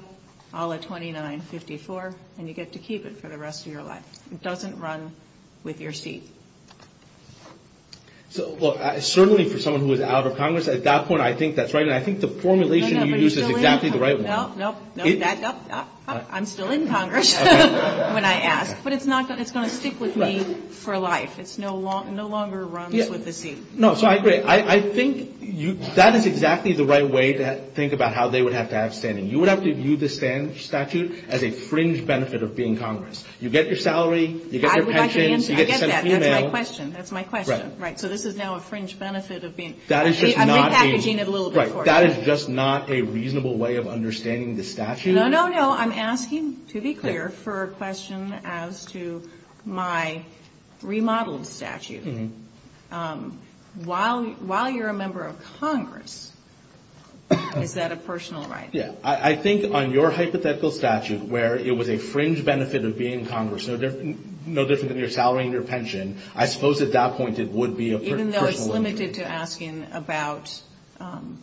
a la 2954, and you get to keep it for the rest of your life. It doesn't run with your seat. So, look, certainly for someone who is out of Congress, at that point I think that's right, and I think the formulation you use is exactly the right one. No, no, no. I'm still in Congress when I ask, but it's going to stick with me for life. It no longer runs with the seat. No, so I agree. I think that is exactly the right way to think about how they would have to have standing. You would have to view the statute as a fringe benefit of being Congress. You get your salary. You get your pensions. I would like to answer. I get that. That's my question. That's my question. Right. So this is now a fringe benefit of being. I'm repackaging it a little bit for you. Right. That is just not a reasonable way of understanding the statute. No, no, no. I'm asking, to be clear, for a question as to my remodeled statute. While you're a member of Congress, is that a personal right? Yeah. I think on your hypothetical statute, where it was a fringe benefit of being Congress, no different than your salary and your pension, I suppose at that point it would be a personal right. Even though it's limited to asking about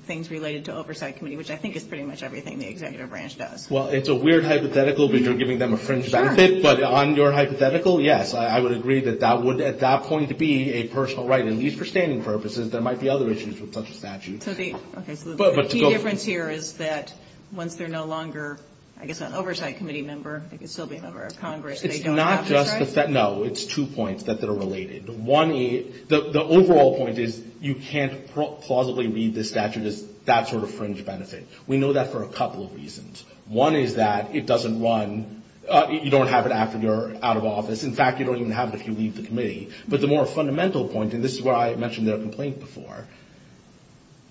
things related to oversight committee, which I think is pretty much everything the executive branch does. Well, it's a weird hypothetical because you're giving them a fringe benefit. Sure. But on your hypothetical, yes. I would agree that that would at that point be a personal right. At least for standing purposes. There might be other issues with such a statute. Okay. So the key difference here is that once they're no longer, I guess, an oversight committee member, they can still be a member of Congress. They don't have to. It's not just the. No. It's two points that are related. The overall point is you can't plausibly read this statute as that sort of fringe benefit. We know that for a couple of reasons. One is that it doesn't run. You don't have it after you're out of office. In fact, you don't even have it if you leave the committee. But the more fundamental point, and this is where I mentioned their complaint before,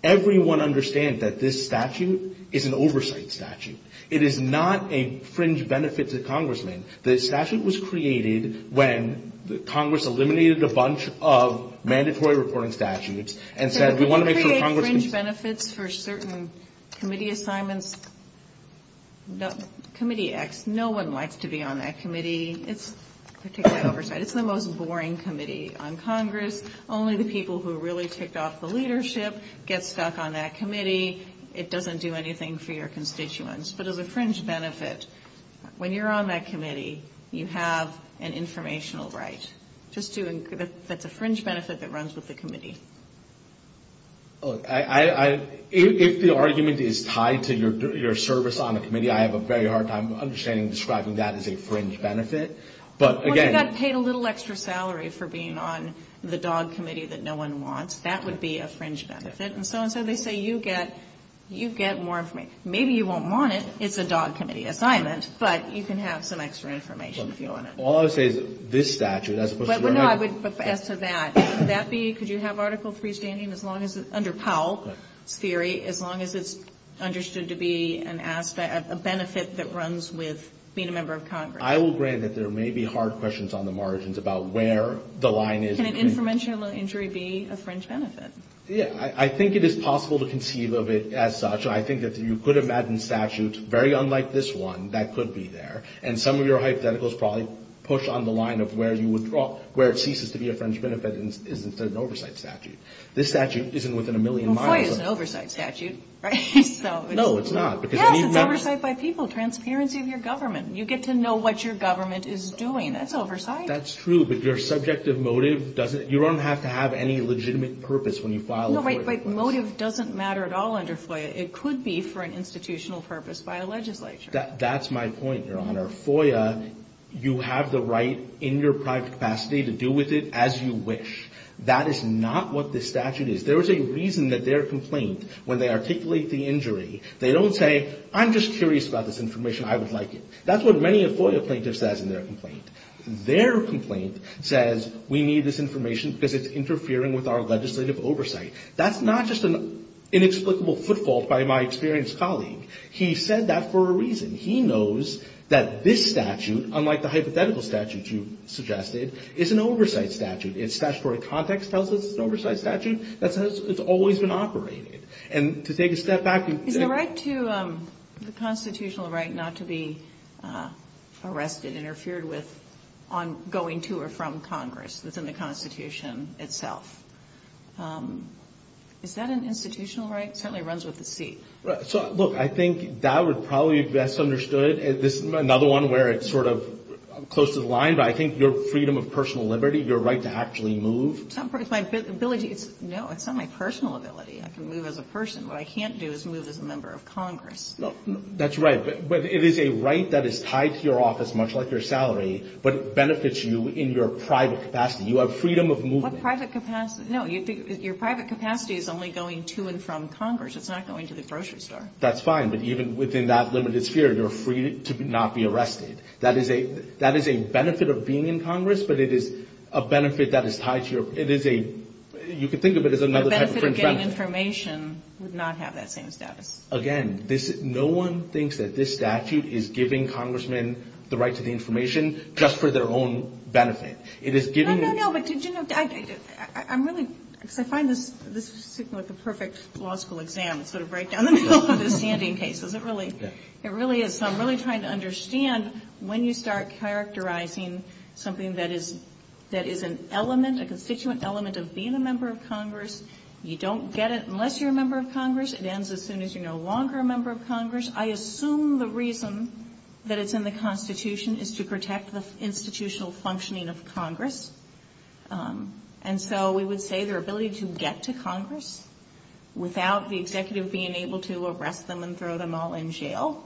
everyone understands that this statute is an oversight statute. It is not a fringe benefit to congressmen. The statute was created when Congress eliminated a bunch of mandatory reporting statutes and said we want to make sure congressmen. You create fringe benefits for certain committee assignments. Committee X, no one likes to be on that committee. It's particularly oversight. It's the most boring committee on Congress. Only the people who really ticked off the leadership get stuck on that committee. It doesn't do anything for your constituents. But as a fringe benefit, when you're on that committee, you have an informational right. That's a fringe benefit that runs with the committee. If the argument is tied to your service on the committee, I have a very hard time understanding describing that as a fringe benefit. Well, you got paid a little extra salary for being on the dog committee that no one wants. That would be a fringe benefit. And so and so they say you get more information. Okay. Maybe you won't want it. It's a dog committee assignment. But you can have some extra information if you want it. All I would say is this statute, as opposed to the other. No, I would ask to that. Could that be, could you have Article III standing as long as, under Powell's theory, as long as it's understood to be a benefit that runs with being a member of Congress? I will grant that there may be hard questions on the margins about where the line is. Can an informational injury be a fringe benefit? Yeah. I think it is possible to conceive of it as such. I think that you could imagine statute, very unlike this one, that could be there. And some of your hypotheticals probably push on the line of where you withdraw, where it ceases to be a fringe benefit and is an oversight statute. This statute isn't within a million miles. FOIA is an oversight statute, right? No, it's not. Yes, it's oversight by people. Transparency of your government. You get to know what your government is doing. That's oversight. That's true. But your subjective motive doesn't, you don't have to have any legitimate purpose when you file a FOIA request. No, but motive doesn't matter at all under FOIA. It could be for an institutional purpose by a legislature. That's my point, Your Honor. FOIA, you have the right in your private capacity to do with it as you wish. That is not what this statute is. There is a reason that their complaint, when they articulate the injury, they don't say, I'm just curious about this information. I would like it. That's what many a FOIA plaintiff says in their complaint. Their complaint says we need this information because it's interfering with our legislative oversight. That's not just an inexplicable footfall by my experienced colleague. He said that for a reason. He knows that this statute, unlike the hypothetical statute you suggested, is an oversight statute. Its statutory context tells us it's an oversight statute. That's how it's always been operated. And to take a step back and say. Is the right to the constitutional right not to be arrested, interfered with, on going to or from Congress that's in the Constitution itself? Is that an institutional right? It certainly runs with the seat. Look, I think that would probably be misunderstood. This is another one where it's sort of close to the line. But I think your freedom of personal liberty, your right to actually move. It's not my ability. No, it's not my personal ability. I can move as a person. What I can't do is move as a member of Congress. That's right. But it is a right that is tied to your office, much like your salary. But it benefits you in your private capacity. You have freedom of movement. What private capacity? No, your private capacity is only going to and from Congress. It's not going to the grocery store. That's fine. But even within that limited sphere, you're free to not be arrested. That is a benefit of being in Congress, but it is a benefit that is tied to your – it is a – you could think of it as another type of fringe benefit. The benefit of getting information would not have that same status. Again, no one thinks that this statute is giving congressmen the right to the information just for their own benefit. It is giving – No, no, no. But did you know – I'm really – because I find this – this is like the perfect law school exam. It's sort of right down the middle of the standing cases. It really – it really is. So I'm really trying to understand when you start characterizing something that is – that is an element, a constituent element of being a member of Congress, you don't get it unless you're a member of Congress. It ends as soon as you're no longer a member of Congress. I assume the reason that it's in the Constitution is to protect the institutional functioning of Congress, and so we would say their ability to get to Congress without the executive being able to arrest them and throw them all in jail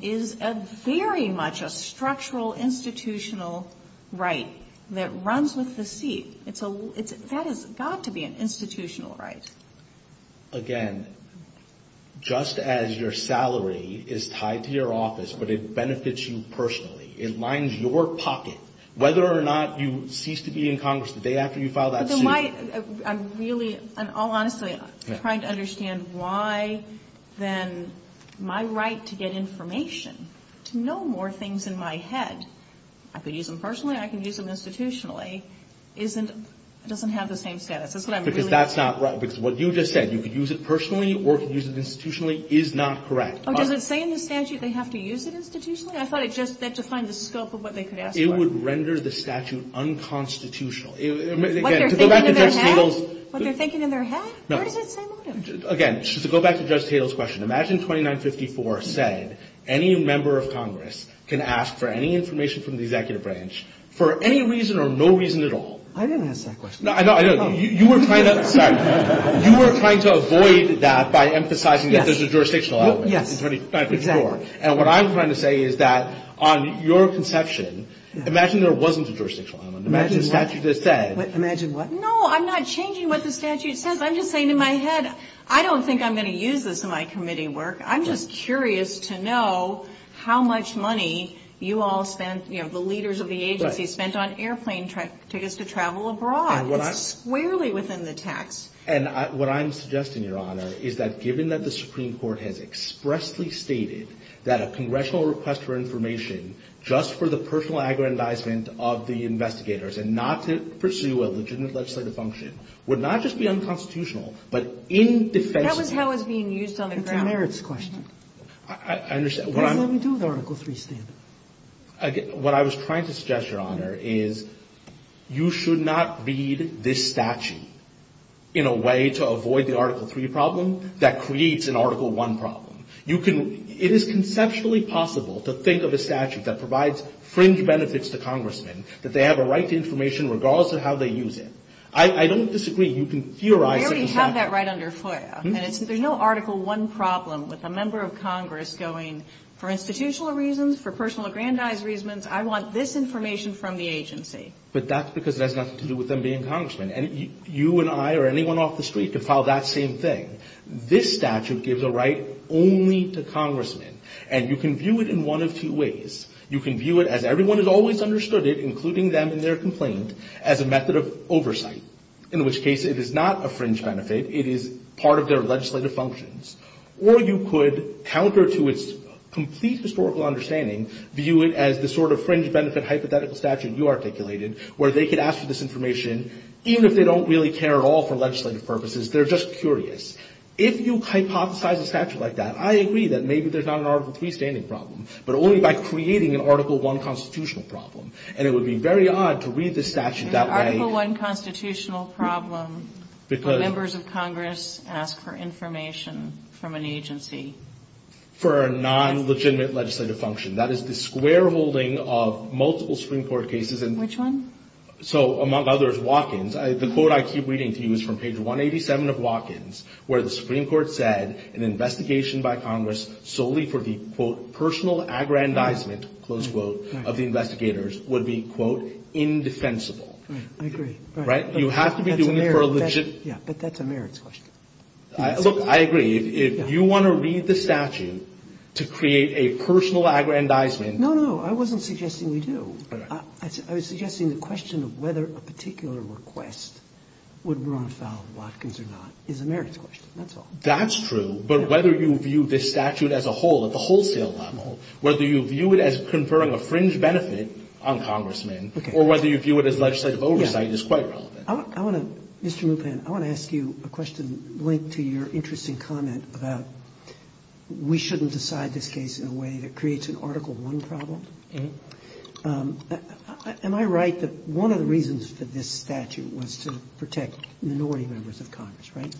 is very much a structural institutional right that runs with the seat. It's a – that has got to be an institutional right. Again, just as your salary is tied to your office but it benefits you personally, it lines your pocket, whether or not you cease to be in Congress the day after you file that suit. But then why – I'm really – I'm all honestly trying to understand why then my right to get information, to know more things in my head – I could use them personally, I could use them institutionally – isn't – doesn't have the same status. That's what I'm really – Because that's not right. Because what you just said, you could use it personally or you could use it institutionally, is not correct. Does it say in the statute they have to use it institutionally? I thought it just – that defined the scope of what they could ask for. It would render the statute unconstitutional. Again, to go back to Judge Tatel's – What they're thinking in their head? What they're thinking in their head? No. Where does it say motive? Again, to go back to Judge Tatel's question, imagine 2954 said any member of Congress can ask for any information from the executive branch for any reason or no reason at all. I didn't ask that question. No, I know. You were trying to – sorry. You were trying to avoid that by emphasizing that there's a jurisdictional element in 2954. Yes, exactly. I'm sure. And what I'm trying to say is that on your conception, imagine there wasn't a jurisdictional element. Imagine the statute just said – Imagine what? No, I'm not changing what the statute says. I'm just saying in my head, I don't think I'm going to use this in my committee work. I'm just curious to know how much money you all spent – you know, the leaders of the agency spent on airplane tickets to travel abroad. It's squarely within the tax. And what I'm suggesting, Your Honor, is that given that the Supreme Court has expressly stated that a congressional request for information just for the personal aggrandizement of the investigators and not to pursue a legitimate legislative function would not just be unconstitutional, but in defense of – That was how it was being used on the ground. It's a merits question. I understand. What does that have to do with Article III standard? What I was trying to suggest, Your Honor, is you should not read this statute in a way to avoid the Article III problem that creates an Article I problem. You can – it is conceptually possible to think of a statute that provides fringe benefits to congressmen, that they have a right to information regardless of how they use it. I don't disagree. You can theorize – We already have that right under FOIA. And there's no Article I problem with a member of Congress going, for institutional reasons, for personal aggrandized reasons, I want this information from the agency. But that's because it has nothing to do with them being congressmen. And you and I or anyone off the street can file that same thing. This statute gives a right only to congressmen. And you can view it in one of two ways. You can view it as everyone has always understood it, including them in their complaint, as a method of oversight, in which case it is not a fringe benefit. It is part of their legislative functions. Or you could counter to its complete historical understanding, view it as the sort of fringe benefit hypothetical statute you articulated, where they could ask for this information even if they don't really care at all for legislative purposes. They're just curious. If you hypothesize a statute like that, I agree that maybe there's not an Article III standing problem, but only by creating an Article I constitutional problem. And it would be very odd to read this statute that way. Article I constitutional problem where members of Congress ask for information from an agency. For a non-legitimate legislative function. That is the square holding of multiple Supreme Court cases. Which one? So, among others, Watkins. The quote I keep reading to you is from page 187 of Watkins, where the Supreme Court said an investigation by Congress solely for the, quote, personal aggrandizement, close quote, of the investigators would be, quote, indefensible. I agree. Right? You have to be doing it for a legitimate. But that's a merits question. Look, I agree. If you want to read the statute to create a personal aggrandizement. No, no, no. I wasn't suggesting we do. I was suggesting the question of whether a particular request would run afoul of Watkins or not is a merits question. That's all. That's true. But whether you view this statute as a whole, at the wholesale level, whether you view it as conferring a fringe benefit on Congressmen or whether you view it as legislative oversight is quite relevant. Mr. Mupan, I want to ask you a question linked to your interesting comment about we shouldn't decide this case in a way that creates an Article I problem. Am I right that one of the reasons for this statute was to protect minority members of Congress, right?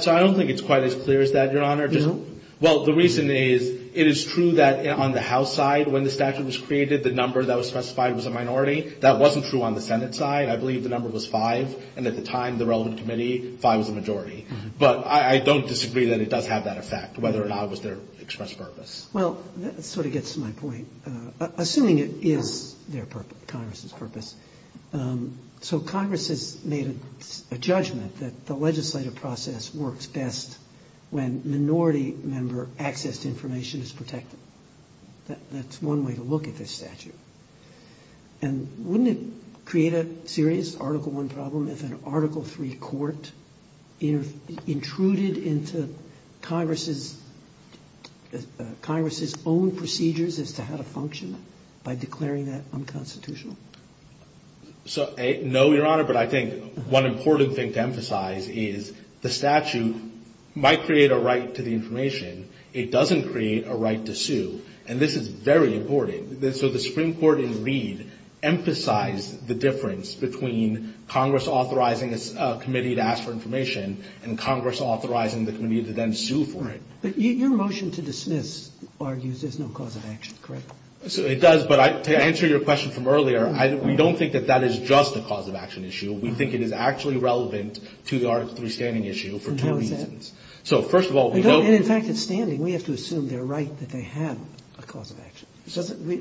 So I don't think it's quite as clear as that, Your Honor. No? Well, the reason is it is true that on the House side, when the statute was created, the number that was specified was a minority. That wasn't true on the Senate side. I believe the number was five. And at the time, the relevant committee, five was the majority. But I don't disagree that it does have that effect, whether or not it was there to express purpose. Well, that sort of gets to my point. Assuming it is there for Congress's purpose. So Congress has made a judgment that the legislative process works best when minority member access to information is protected. That's one way to look at this statute. And wouldn't it create a serious Article I problem if an Article III court intruded into Congress's own procedures as to how to function by declaring that information unconstitutional? No, Your Honor, but I think one important thing to emphasize is the statute might create a right to the information. It doesn't create a right to sue. And this is very important. So the Supreme Court in Reed emphasized the difference between Congress authorizing a committee to ask for information and Congress authorizing the committee to then sue for it. But your motion to dismiss argues there's no cause of action, correct? It does, but to answer your question from earlier, we don't think that that is just a cause of action issue. We think it is actually relevant to the Article III standing issue for two reasons. And how is that? So, first of all, we don't... And in fact, at standing, we have to assume they're right that they have a cause of action.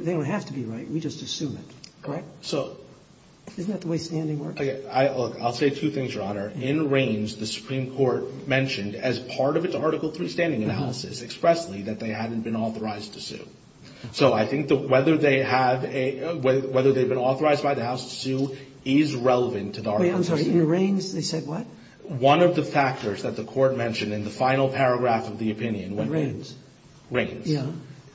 They don't have to be right. We just assume it, correct? So... Isn't that the way standing works? Look, I'll say two things, Your Honor. expressly that they hadn't been authorized to sue. So I think that whether they have a – whether they've been authorized by the House to sue is relevant to the Article III. Wait, I'm sorry. In Reins, they said what? One of the factors that the Court mentioned in the final paragraph of the opinion when Reins... Reins. Yeah.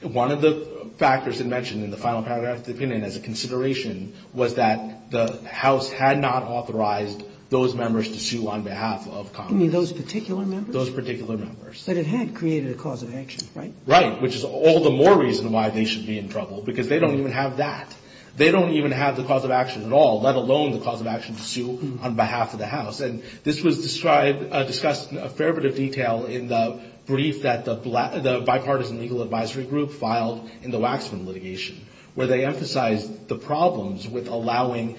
One of the factors it mentioned in the final paragraph of the opinion as a consideration was that the House had not authorized those members to sue on behalf of Congress. You mean those particular members? Those particular members. But it had created a cause of action, right? Right. Which is all the more reason why they should be in trouble because they don't even have that. They don't even have the cause of action at all, let alone the cause of action to sue on behalf of the House. And this was described – discussed in a fair bit of detail in the brief that the Bipartisan Legal Advisory Group filed in the Waxman litigation where they emphasized the problems with allowing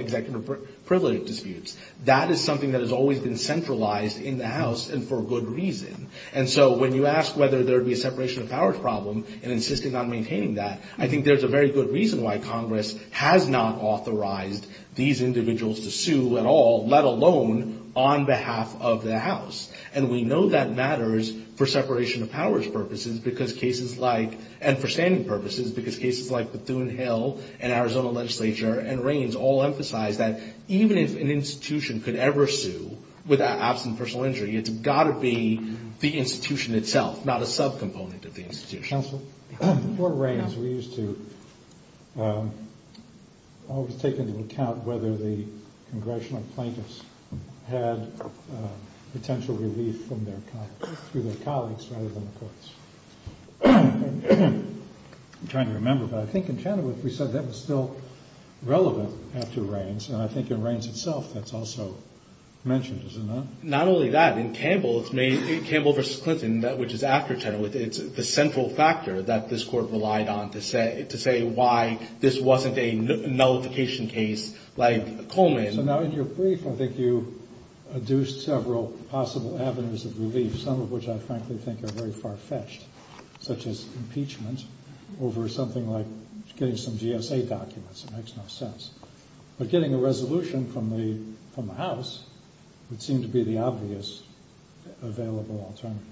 executive privilege disputes. That is something that has always been centralized in the House and for good reason. And so when you ask whether there would be a separation of powers problem and insisting on maintaining that, I think there's a very good reason why Congress has not authorized these individuals to sue at all, let alone on behalf of the House. And we know that matters for separation of powers purposes because cases like – and for standing purposes because cases like Bethune-Hill and Arizona legislature and Reins all emphasize that even if an institution could ever sue without absent personal injury, it's got to be the institution itself, not a subcomponent of the institution. Counsel? For Reins, we used to always take into account whether the congressional plaintiffs had potential relief from their – through their colleagues rather than the courts. I'm trying to remember, but I think in Chenoweth we said that was still relevant after Reins, and I think in Reins itself that's also mentioned, is it not? Not only that. In Campbell, it's made – in Campbell v. Clinton, which is after Chenoweth, it's the central factor that this Court relied on to say why this wasn't a nullification case like Coleman. So now in your brief, I think you adduced several possible avenues of relief, some of which I frankly think are very far-fetched, such as impeachment over something like getting some GSA documents. It makes no sense. But getting a resolution from the House would seem to be the obvious available alternative.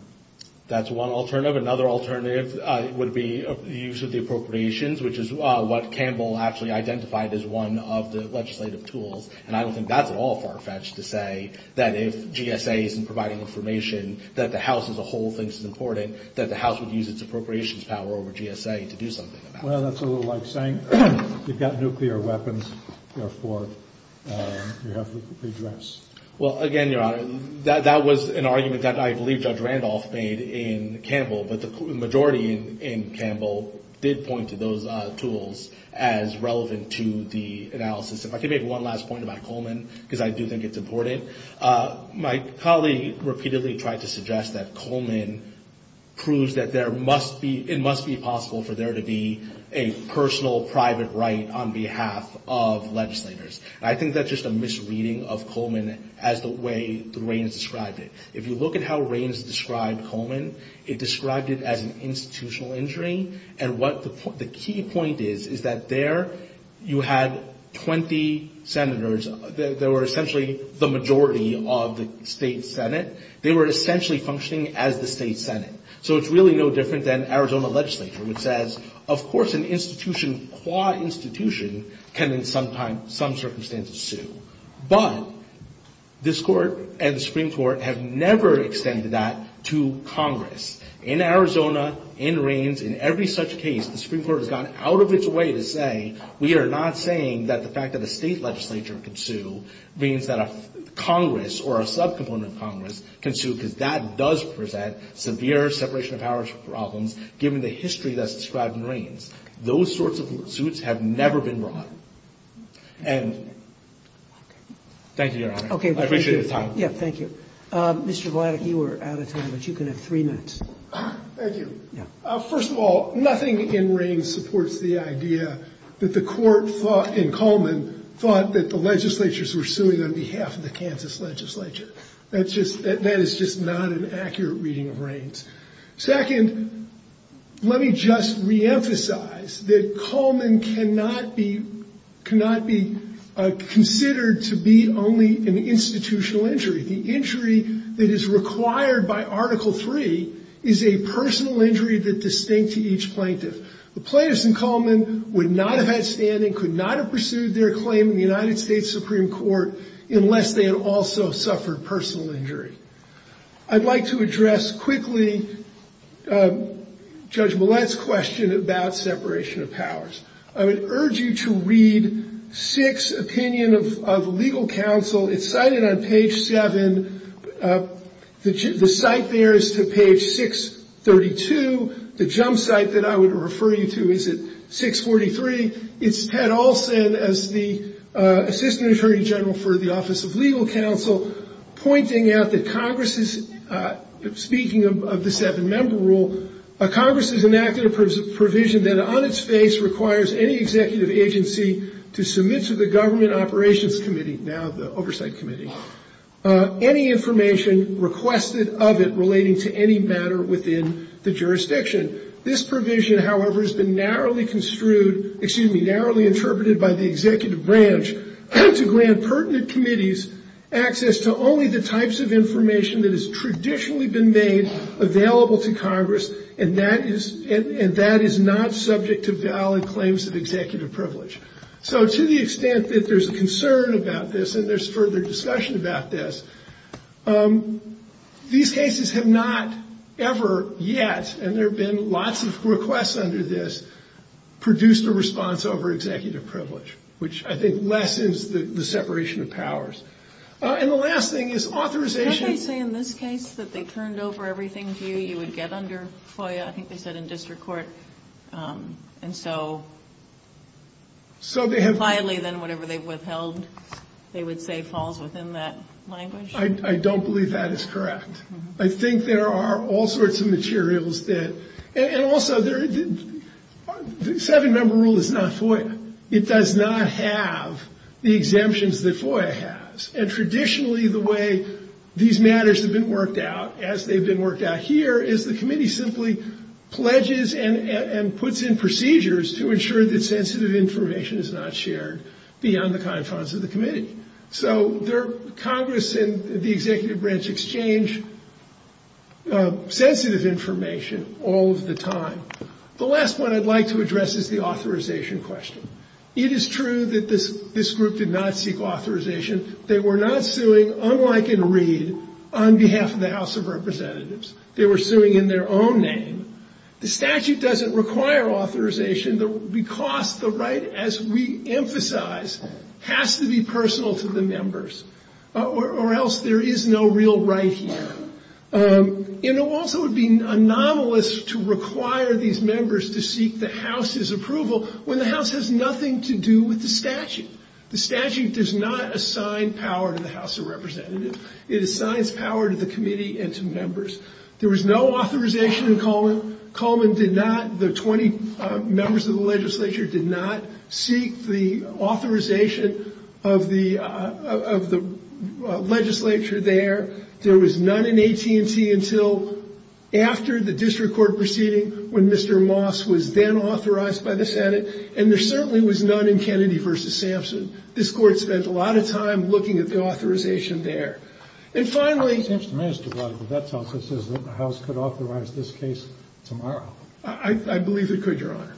That's one alternative. Another alternative would be the use of the appropriations, which is what Campbell actually identified as one of the legislative tools, and I don't think that's at all far-fetched to say that if GSA isn't providing information, that the House as a whole thinks it's important, that the House would use its appropriations power over GSA to do something about it. Well, that's a little like saying you've got nuclear weapons, therefore you have to redress. Well, again, Your Honor, that was an argument that I believe Judge Randolph made in Campbell, but the majority in Campbell did point to those tools as relevant to the analysis. If I could make one last point about Coleman, because I do think it's important. My colleague repeatedly tried to suggest that Coleman proves that it must be possible for there to be a personal private right on behalf of legislators. I think that's just a misreading of Coleman as the way the reigns described it. If you look at how reigns described Coleman, it described it as an institutional injury, and what the key point is, is that there you had 20 senators. They were essentially the majority of the state senate. They were essentially functioning as the state senate. So it's really no different than Arizona legislature, which says, of course an institution, qua institution, can in some circumstances sue. But this Court and the Supreme Court have never extended that to Congress. In Arizona, in reigns, in every such case, the Supreme Court has gone out of its way to say we are not saying that the fact that a state legislature can sue means that a Congress or a subcomponent of Congress can sue, because that does present severe separation of powers problems, given the history that's described in reigns. Those sorts of suits have never been brought. And thank you, Your Honor. I appreciate your time. Yeah, thank you. Mr. Vladeck, you were out of time, but you can have three minutes. Thank you. First of all, nothing in reigns supports the idea that the Court thought in Coleman thought that the legislatures were suing on behalf of the Kansas legislature. That is just not an accurate reading of reigns. Second, let me just reemphasize that Coleman cannot be considered to be only an institutional injury. The injury that is required by Article III is a personal injury that is distinct to each plaintiff. The plaintiffs in Coleman would not have had standing, could not have pursued their claim in the United States Supreme Court unless they had also suffered personal injury. I'd like to address quickly Judge Millett's question about separation of powers. I would urge you to read Sixth Opinion of the Legal Counsel. It's cited on page 7. The site there is to page 632. The jump site that I would refer you to is at 643. It's Ted Olson as the Assistant Attorney General for the Office of Legal Counsel pointing out that Congress is, speaking of the seven-member rule, Congress has enacted a provision that on its face requires any executive agency to submit to the Government Operations Committee, now the Oversight Committee, any information requested of it relating to any matter within the jurisdiction. This provision, however, has been narrowly construed, excuse me, narrowly interpreted by the executive branch to grant pertinent committees access to only the types of information that has traditionally been made available to Congress, and that is not subject to valid claims of executive privilege. So to the extent that there's concern about this and there's further discussion about this, these cases have not ever yet, and there have been lots of requests under this, produced a response over executive privilege, which I think lessens the separation of powers. And the last thing is authorization. Can't they say in this case that they turned over everything to you, you would get under FOIA? I think they said in district court. And so, So they have more widely than whatever they've withheld, they would say falls within that language? I don't believe that is correct. I think there are all sorts of materials that, and also, the seven-member rule is not FOIA. It does not have the exemptions that FOIA has. And traditionally, the way these matters have been worked out, as they've been worked out here, is the committee simply pledges and puts in procedures to ensure that sensitive information is not shared beyond the confines of the committee. So Congress and the executive branch exchange sensitive information all of the time. The last one I'd like to address is the authorization question. It is true that this group did not seek authorization. They were not suing, unlike in Reed, on behalf of the House of Representatives. They were suing in their own name. The statute doesn't require authorization because the right, as we emphasize, has to be personal to the members or else there is no real right here. And it also would be anomalous to require these members to seek the House's authorization. The statute does not assign power to the House of Representatives. It assigns power to the committee and to members. There was no authorization in Coleman. Coleman did not, the 20 members of the legislature, did not seek the authorization of the legislature there. There was none in AT&T until after the district court proceeding, when Mr. Moss was then authorized by the Senate. And there certainly was none in Kennedy v. Sampson. This Court spent a lot of time looking at the authorization there. And finally the House could authorize this case tomorrow. I believe it could, Your Honor.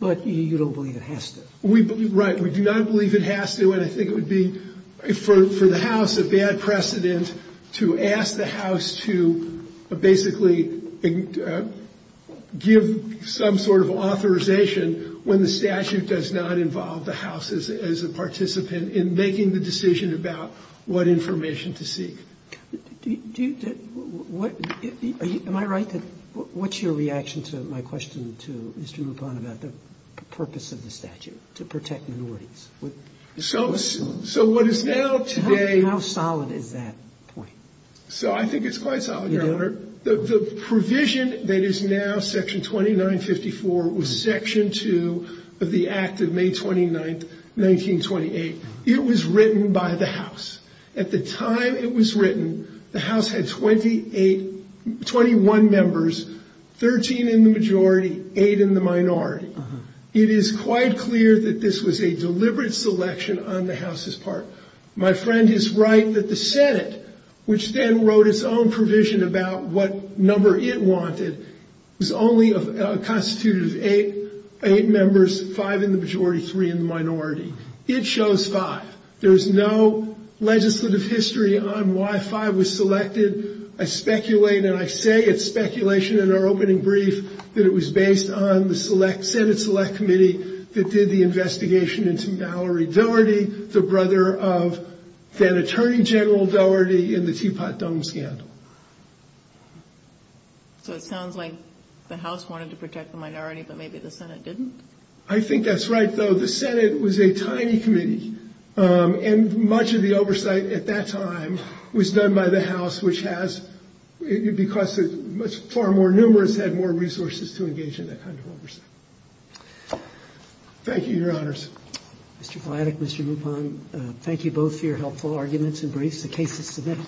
But you don't believe it has to. Right. We do not believe it has to. And I think it would be for the House a bad precedent to ask the House to basically give some sort of authorization when the statute does not involve the House as a participant in making the decision about what information to seek. Do you, what, am I right that, what's your reaction to my question to Mr. Lupon about the purpose of the statute, to protect minorities? So what is now today. How solid is that point? So I think it's quite solid, Your Honor. The provision that is now Section 2954 was Section 2 of the Act of May 29th, 1928. It was written by the House. At the time it was written, the House had 28, 21 members, 13 in the majority, 8 in the minority. It is quite clear that this was a deliberate selection on the House's part. My friend is right that the Senate, which then wrote its own provision about what number it wanted, was only constituted of 8 members, 5 in the majority, 3 in the minority. It shows 5. There is no legislative history on why 5 was selected. I speculate, and I say it's speculation in our opening brief, that it was based on the Senate Select Committee that did the investigation into Mallory Dougherty, the brother of then-Attorney General Dougherty, in the Teapot Dome scandal. So it sounds like the House wanted to protect the minority, but maybe the Senate didn't? I think that's right, though. The Senate was a tiny committee, and much of the oversight at that time was done by the House, which has, because it's far more numerous, had more resources to engage in that kind of oversight. Thank you, Your Honors. Mr. Vladek, Mr. Lupon, thank you both for your helpful arguments and briefs. The case is submitted.